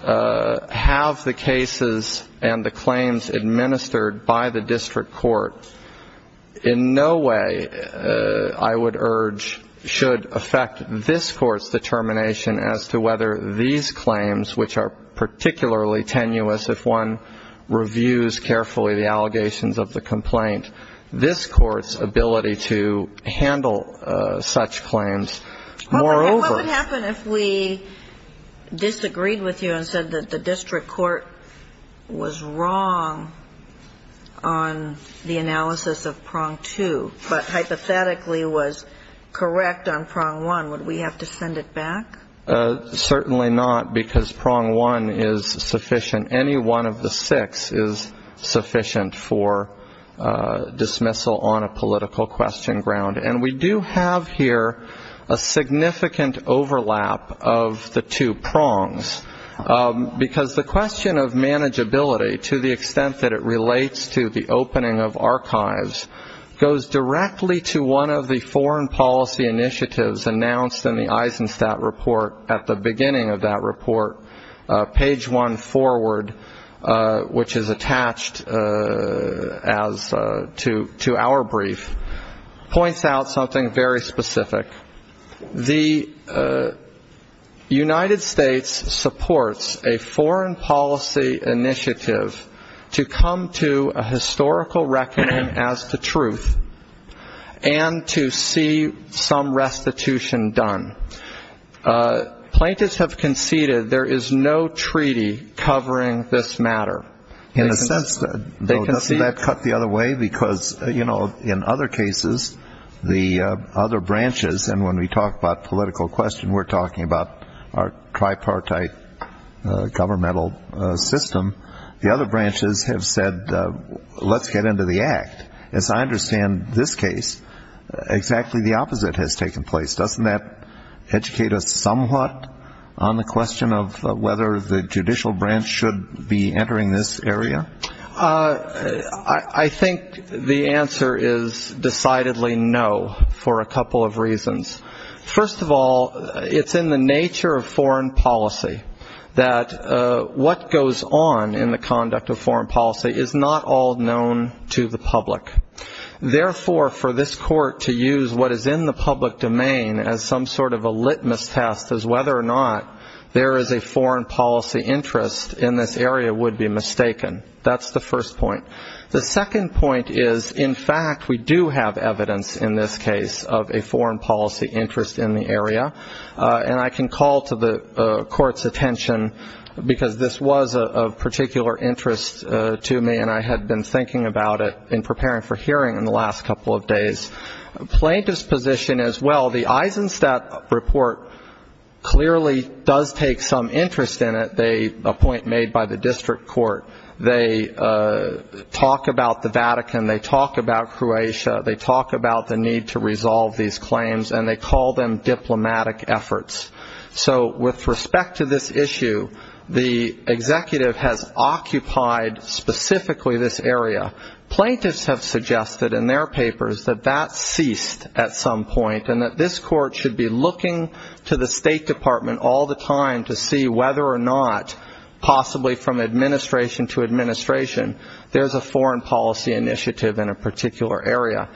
have the cases and the claims administered by the district court in no way, I would urge, should affect this court's determination as to whether these claims, which are particularly tenuous if one reviews carefully the allegations of the complaint, affect this court's ability to handle such claims moreover. What would happen if we disagreed with you and said that the district court was wrong on the analysis of prong two but hypothetically was correct on prong one? Would we have to send it back? Certainly not, because prong one is sufficient. Any one of the six is sufficient for dismissal on a political question ground, and we do have here a significant overlap of the two prongs, because the question of manageability to the extent that it relates to the opening of archives goes directly to one of the foreign policy initiatives announced in the Eisenstadt report at the beginning of that report, page one forward, which is attached to our brief, points out something very specific. The United States supports a foreign policy initiative to come to a historical reckoning as the truth and to see some restitution done. Plaintiffs have conceded there is no treaty covering this matter. And it says so, doesn't that cut the other way? Because, you know, in other cases, the other branches, and when we talk about political question we're talking about our tripartite governmental system, as I understand this case, exactly the opposite has taken place. Doesn't that educate us somewhat on the question of whether the judicial branch should be entering this area? I think the answer is decidedly no for a couple of reasons. First of all, it's in the nature of foreign policy that what goes on in the conduct of foreign policy is not all known to the public. Therefore, for this court to use what is in the public domain as some sort of a litmus test as whether or not there is a foreign policy interest in this area would be mistaken. That's the first point. The second point is, in fact, we do have evidence in this case of a foreign policy interest in the area. And I can call to the court's attention, because this was of particular interest to me, and I had been thinking about it in preparing for hearing in the last couple of days. Plaintiff's position is, well, the Eisenstadt report clearly does take some interest in it. A point made by the district court, they talk about the Vatican, they talk about Croatia, they talk about the need to resolve these claims, and they call them diplomatic efforts. So with respect to this issue, the executive has occupied specifically this area. Plaintiffs have suggested in their papers that that ceased at some point and that this court should be looking to the State Department all the time to see whether or not, possibly from administration to administration, there's a foreign policy initiative in a particular area.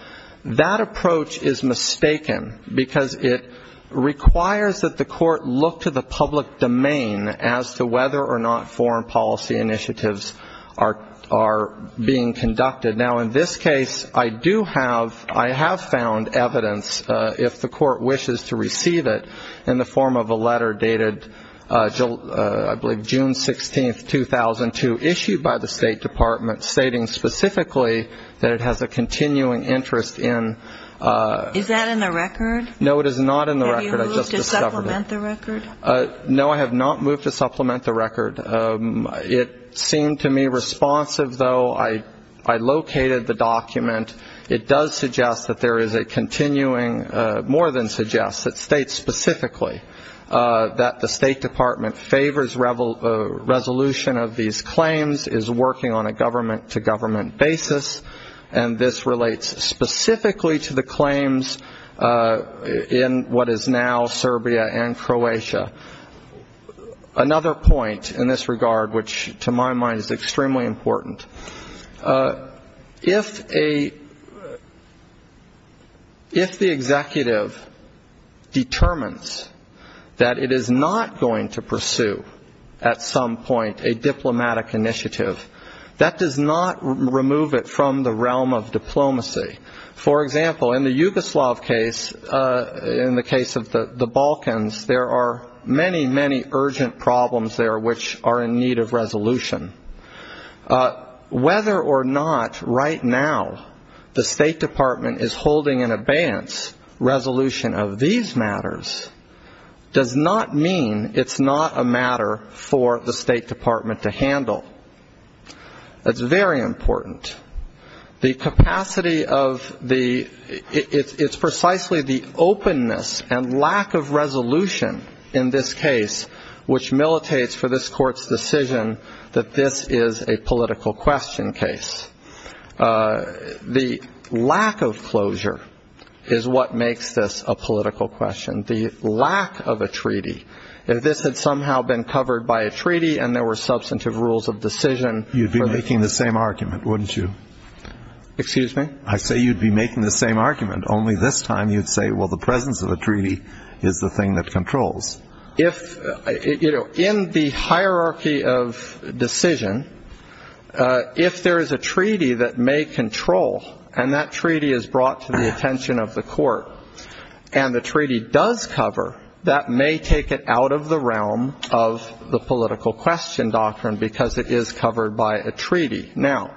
That approach is mistaken because it requires that the court look to the public domain as to whether or not foreign policy initiatives are being conducted. Now, in this case, I have found evidence, if the court wishes to receive it, in the form of a letter dated, I believe, June 16, 2002, issued by the State Department, stating specifically that it has a continuing interest in. Is that in the record? No, it is not in the record. Have you moved to supplement the record? No, I have not moved to supplement the record. It seemed to me responsive, though. I located the document. It does suggest that there is a continuing, more than suggests, it states specifically that the State Department favors resolution of these claims, is working on a government-to-government basis, and this relates specifically to the claims in what is now Serbia and Croatia. Another point in this regard, which to my mind is extremely important. If the executive determines that it is not going to pursue, at some point, a diplomatic initiative, that does not remove it from the realm of diplomacy. For example, in the Yugoslav case, in the case of the Balkans, there are many, many urgent problems there which are in need of resolution. Whether or not, right now, the State Department is holding an abeyance resolution of these matters, does not mean it is not a matter for the State Department to handle. That is very important. The capacity of the, it is precisely the openness and lack of resolution in this case, which militates for this court's decision that this is a political question case. The lack of closure is what makes this a political question. The lack of a treaty, if this had somehow been covered by a treaty and there were substantive rules of decision. You would be making the same argument, wouldn't you? Excuse me? I say you would be making the same argument, only this time you would say, well, the presence of a treaty is the thing that controls. In the hierarchy of decision, if there is a treaty that may control, and that treaty is brought to the attention of the court, and the treaty does cover, that may take it out of the realm of the political question doctrine because it is covered by a treaty. Now,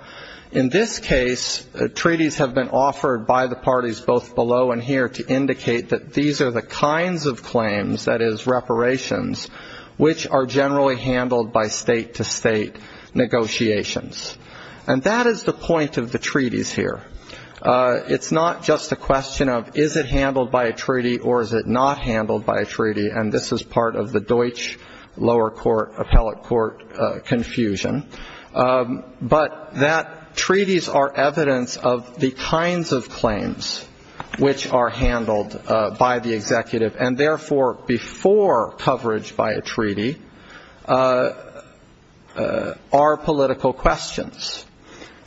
in this case, treaties have been offered by the parties both below and here to indicate that these are the kinds of claims, that is, reparations, which are generally handled by state-to-state negotiations. And that is the point of the treaties here. It's not just a question of is it handled by a treaty or is it not handled by a treaty, and this is part of the Deutsch lower court, appellate court confusion. But that treaties are evidence of the kinds of claims which are handled by the executive, and therefore before coverage by a treaty are political questions.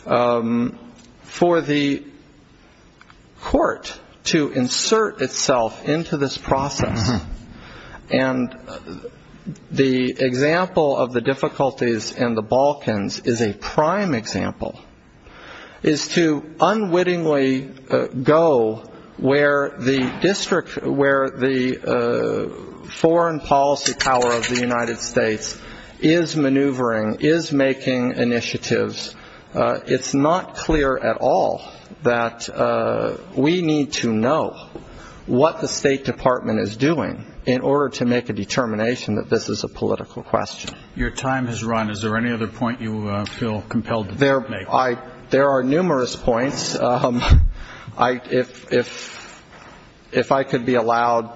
For the court to insert itself into this process, and the example of the difficulties in the Balkans is a prime example, is to unwittingly go where the foreign policy power of the United States is maneuvering, is making initiatives, it's not clear at all that we need to know what the State Department is doing in order to make a determination that this is a political question. Your time has run. Is there any other point you feel compelled to make? There are numerous points. If I could be allowed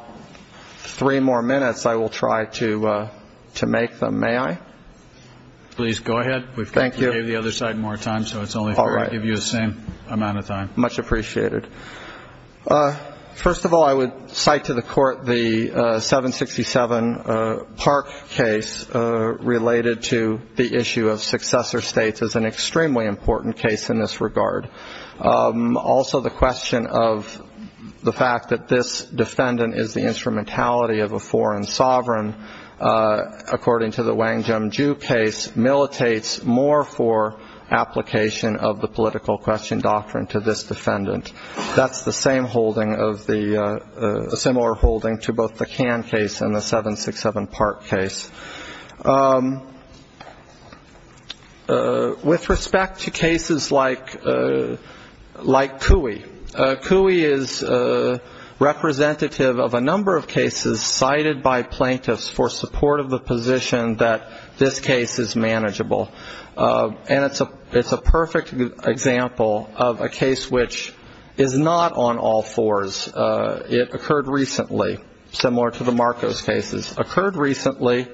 three more minutes, I will try to make them. May I? Please go ahead. Thank you. We'll give the other side more time, so it's only fair I give you the same amount of time. Much appreciated. First of all, I would cite to the court the 767 Park case related to the issue of successor states which is an extremely important case in this regard. Also, the question of the fact that this defendant is the instrumentality of a foreign sovereign, according to the Wang Jim Ju case, militates more for application of the political question doctrine to this defendant. That's the same holding, a similar holding to both the Cannes case and the 767 Park case. With respect to cases like Cooey, Cooey is representative of a number of cases cited by plaintiffs for support of the position that this case is manageable. And it's a perfect example of a case which is not on all fours. It occurred recently, similar to the Marcos cases. Occurred recently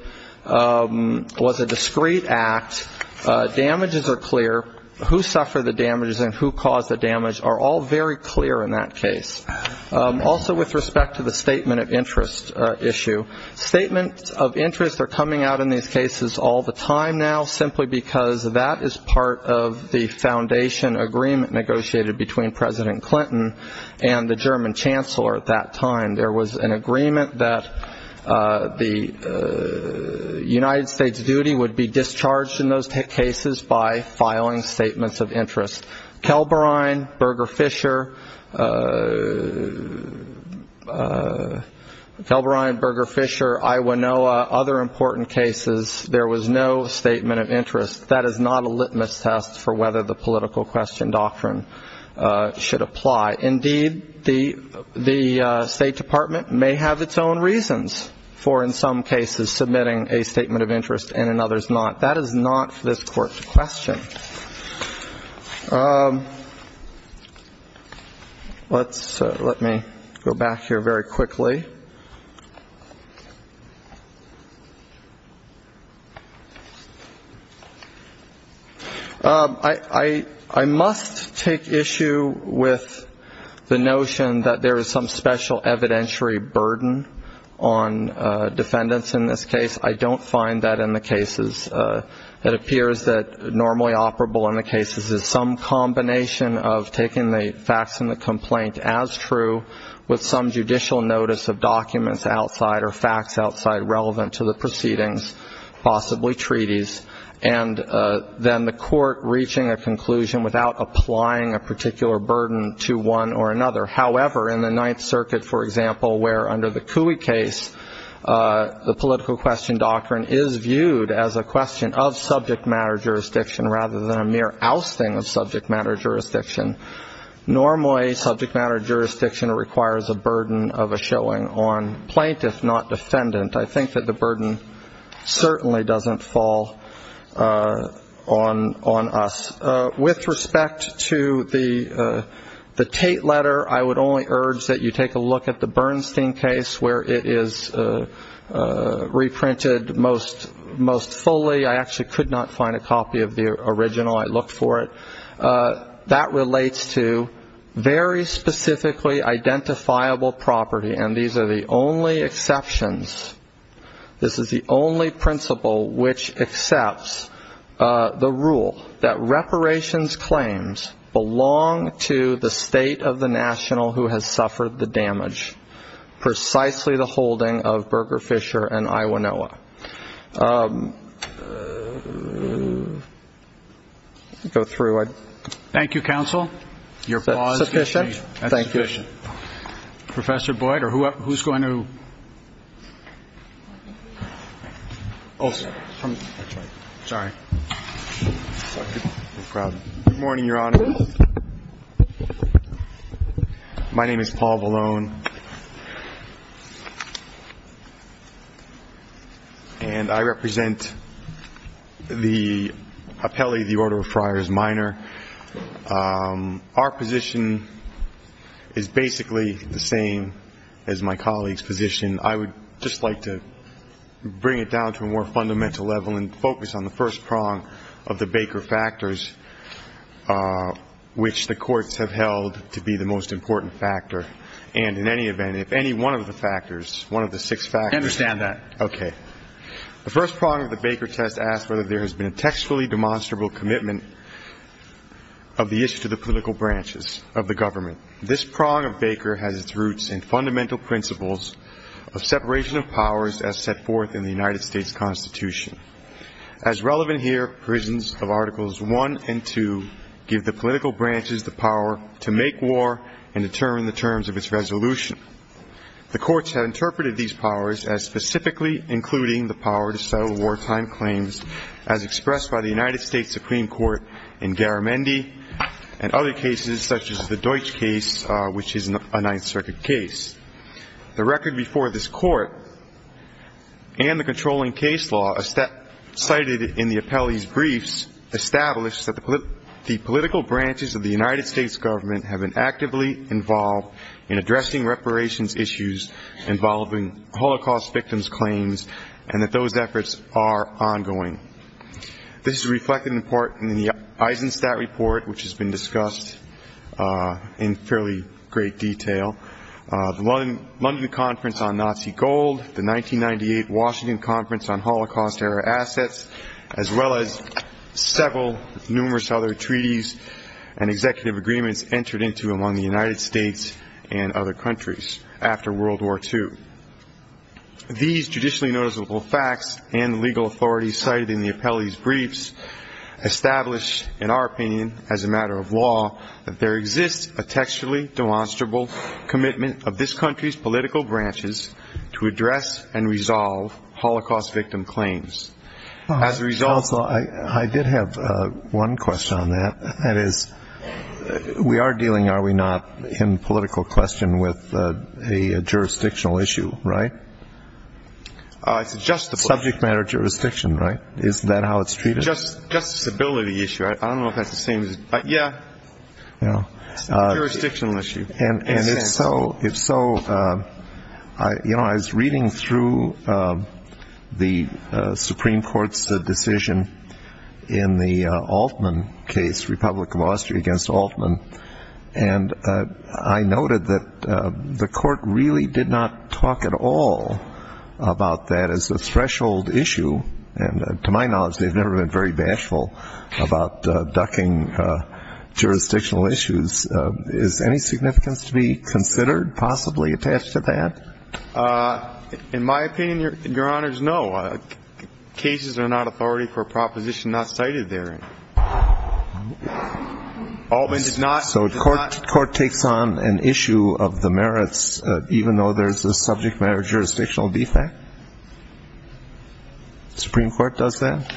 was a discrete act. Damages are clear. Who suffered the damages and who caused the damage are all very clear in that case. Also, with respect to the statement of interest issue, statements of interest are coming out in these cases all the time now simply because that is part of the foundation agreement negotiated between President Clinton and the German Chancellor at that time. There was an agreement that the United States duty would be discharged in those cases by filing statements of interest. Kelbrine, Berger-Fisher, Iwanoa, other important cases, there was no statement of interest. That is not a litmus test for whether the political question doctrine should apply. Indeed, the State Department may have its own reasons for in some cases submitting a statement of interest and in others not. That is not this court's question. Let me go back here very quickly. I must take issue with the notion that there is some special evidentiary burden on defendants in this case. I don't find that in the cases. It appears that normally operable in the cases is some combination of taking the facts in the complaint as true with some judicial notice of documents outside or facts outside relevant to the proceedings, possibly treaties, and then the court reaching a conclusion without applying a particular burden to one or another. However, in the Ninth Circuit, for example, where under the Cooey case, the political question doctrine is viewed as a question of subject matter jurisdiction rather than a mere ousting of subject matter jurisdiction, normally subject matter jurisdiction requires a burden of a showing on plaintiffs, not defendants. I think that the burden certainly doesn't fall on us. With respect to the Tate letter, I would only urge that you take a look at the Bernstein case, where it is reprinted most fully. I actually could not find a copy of the original. I looked for it. That relates to very specifically identifiable property, and these are the only exceptions. This is the only principle which accepts the rule that reparations claims belong to the state of the national who has suffered the damage, precisely the holding of Berger Fisher and Iowanoa. Go through. Thank you, counsel. Thank you, sir. Thank you, sir. Professor Boyd, or who's going to? Good morning, Your Honor. My name is Paul Vallone. And I represent the appellee, the Order of Friars Minor. Our position is basically the same as my colleague's position. I would just like to bring it down to a more fundamental level and focus on the first prong of the Baker factors, which the courts have held to be the most important factor. And in any event, if any one of the factors, one of the six factors— I understand that. Okay. The first prong of the Baker test asks whether there has been textually demonstrable commitment of the issue to the political branches of the government. This prong of Baker has its roots in fundamental principles of separation of powers as set forth in the United States Constitution. As relevant here, provisions of Articles 1 and 2 give the political branches the power to make war and determine the terms of its resolution. The courts have interpreted these powers as specifically including the power to settle wartime claims as expressed by the United States Supreme Court in Garamendi and other cases such as the Deutsch case, which is a Ninth Circuit case. The record before this court and the controlling case law cited in the appellee's briefs establish that the political branches of the United States government have been actively involved in addressing reparations issues involving Holocaust victims' claims and that those efforts are ongoing. This is reflected in part in the Eisenstadt Report, which has been discussed in fairly great detail, the London Conference on Nazi Gold, the 1998 Washington Conference on Holocaust-Era Assets, as well as several numerous other treaties and executive agreements entered into among the United States and other countries after World War II. These judicially noticeable facts and legal authority cited in the appellee's briefs establish, in our opinion, as a matter of law, that there exists a textually demonstrable commitment of this country's political branches to address and resolve Holocaust victim claims. I did have one question on that. That is, we are dealing, are we not, in political question with a jurisdictional issue, right? Subject matter jurisdiction, right? Isn't that how it's treated? Just a stability issue. I don't know if that's the same as... Yeah, jurisdictional issue. And if so, you know, I was reading through the Supreme Court's decision in the Altman case, Republic of Austria against Altman, and I noted that the court really did not talk at all about that as a threshold issue, and to my knowledge they've never been very bashful about ducking jurisdictional issues. Is there any significance to be considered possibly attached to that? In my opinion, Your Honors, no. Cases are not authority for a proposition not cited therein. Altman did not... So the court takes on an issue of the merits even though there's a subject matter jurisdictional defect? The Supreme Court does that?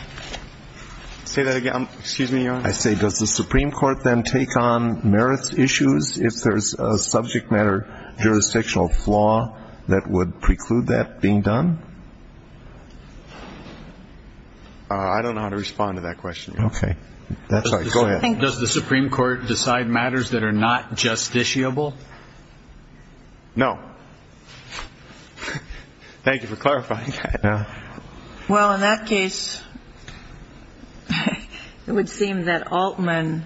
Say that again. Excuse me, Your Honor. I say does the Supreme Court then take on merits issues if there's a subject matter jurisdictional flaw that would preclude that being done? I don't know how to respond to that question. Okay. Sorry, go ahead. Does the Supreme Court decide matters that are not justiciable? No. Thank you for clarifying. Well, in that case, it would seem that Altman,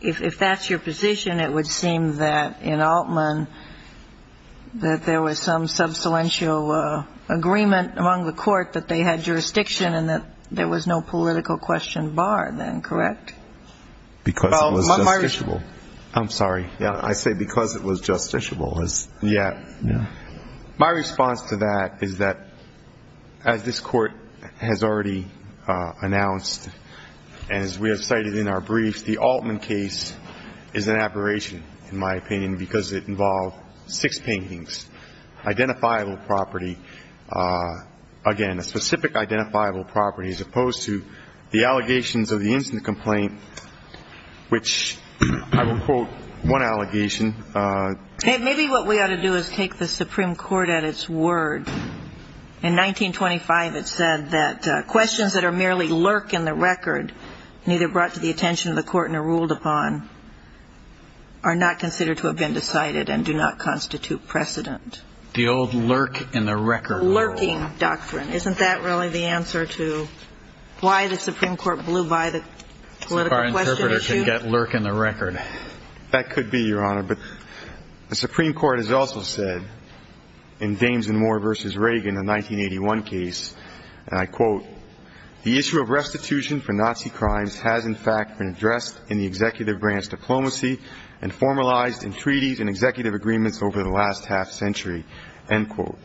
if that's your position, it would seem that in Altman that there was some substantial agreement among the court that they had jurisdiction and that there was no political question bar then, correct? Because it was justiciable. I'm sorry. I say because it was justiciable. Yeah. My response to that is that as this court has already announced, as we have cited in our brief, the Altman case is an aberration in my opinion because it involved six paintings, identifiable property. Again, a specific identifiable property as opposed to the allegations of the incident complaint, which I will quote one allegation. Maybe what we ought to do is take the Supreme Court at its word. In 1925, it said that questions that are merely lurk in the record, neither brought to the attention of the court nor ruled upon, are not considered to have been decided and do not constitute precedent. The old lurk in the record. Lurking doctrine. Isn't that really the answer to why the Supreme Court blew by the political question issue? Our interpreter can get lurk in the record. That could be, Your Honor. But the Supreme Court has also said in Gaines and Moore v. Reagan, a 1981 case, and I quote, the issue of restitution for Nazi crimes has in fact been addressed in the executive branch diplomacy and formalized in treaties and executive agreements over the last half century, end quote.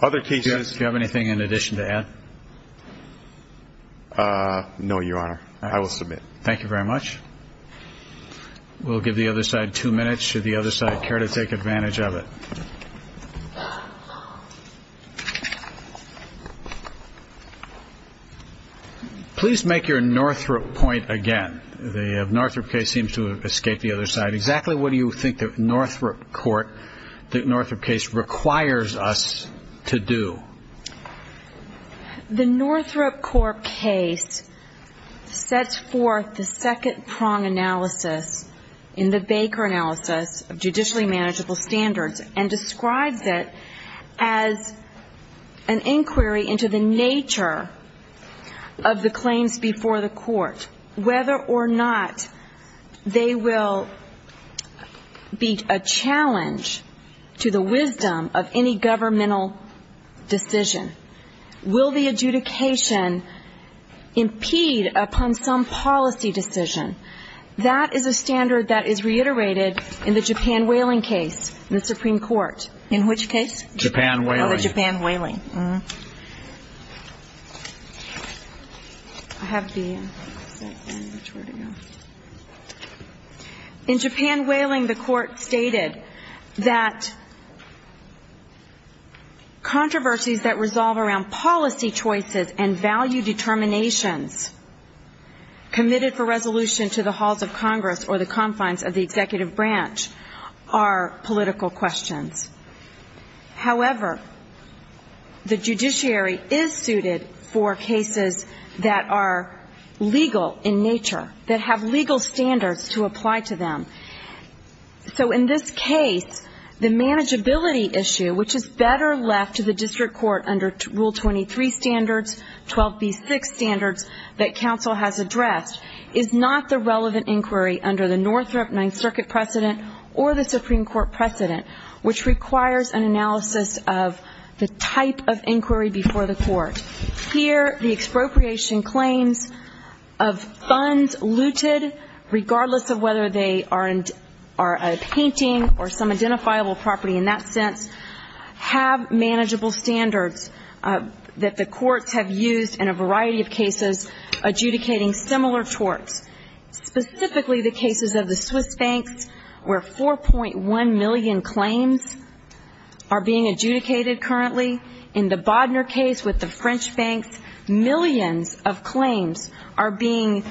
Do you have anything in addition to that? No, Your Honor. I will submit. Thank you very much. We'll give the other side two minutes. Should the other side care to take advantage of it? Please make your Northrop point again. The Northrop case seems to escape the other side. Exactly what do you think the Northrop case requires us to do? The Northrop court case sets forth the second prong analysis in the Baker analysis of judicially manageable standards and describes it as an inquiry into the nature of the claims before the court, whether or not they will be a challenge to the wisdom of any governmental decision. Will the adjudication impede upon some policy decision? That is a standard that is reiterated in the Japan whaling case in the Supreme Court. In which case? Japan whaling. Oh, the Japan whaling. In Japan whaling, the court stated that controversies that resolve around policy choices and value determinations committed for resolution to the halls of Congress or the confines of the executive branch are political questions. However, the judiciary is suited for cases that are legal in nature, that have legal standards to apply to them. So in this case, the manageability issue, which is better left to the district court under Rule 23 standards, 12b6 standards that counsel has addressed, is not the relevant inquiry under the Northrop Ninth Circuit precedent or the Supreme Court precedent, which requires an analysis of the type of inquiry before the court. Here, the expropriation claims of funds looted, regardless of whether they are a painting or some identifiable property in that sense, have manageable standards that the courts have used in a variety of cases adjudicating similar torts. Specifically, the cases of the Swiss banks, where 4.1 million claims are being adjudicated currently. In the Bodner case with the French banks, millions of claims are being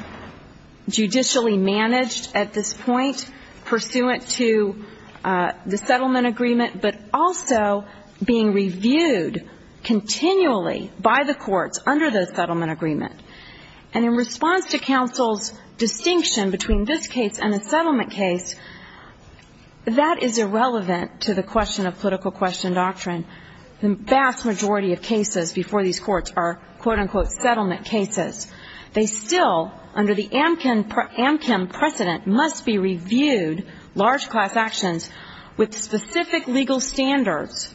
judicially managed at this point, pursuant to the settlement agreement, but also being reviewed continually by the courts under the settlement agreement. And in response to counsel's distinction between this case and the settlement case, that is irrelevant to the question of political question doctrine. The vast majority of cases before these courts are quote-unquote settlement cases. They still, under the Amchem precedent, must be reviewed, large class actions, with specific legal standards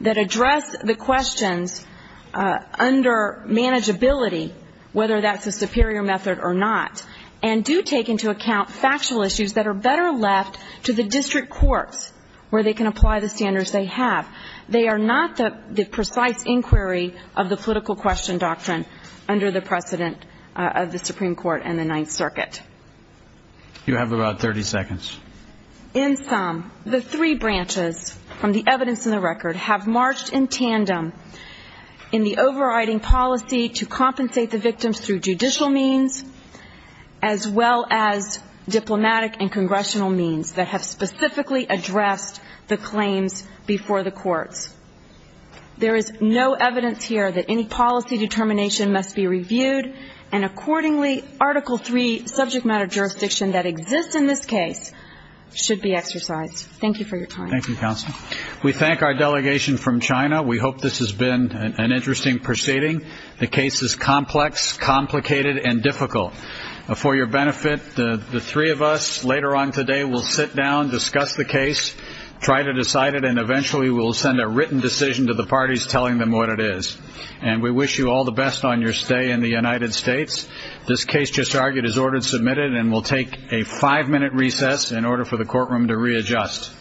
that address the questions under manageability whether that's a superior method or not, and do take into account factual issues that are better left to the district courts where they can apply the standards they have. They are not the precise inquiry of the political question doctrine under the precedent of the Supreme Court and the Ninth Circuit. You have about 30 seconds. In sum, the three branches from the evidence in the record have marched in tandem in the overriding policy to compensate the victims through judicial means as well as diplomatic and congressional means that have specifically addressed the claims before the courts. There is no evidence here that any policy determination must be reviewed, and accordingly, Article III subject matter jurisdiction that exists in this case should be exercised. Thank you for your time. Thank you, counsel. We thank our delegation from China. We hope this has been an interesting proceeding. The case is complex, complicated, and difficult. For your benefit, the three of us later on today will sit down, discuss the case, try to decide it, and eventually we'll send a written decision to the parties telling them what it is. And we wish you all the best on your stay in the United States. This case, just argued, is ordered submitted and will take a five-minute recess in order for the courtroom to readjust.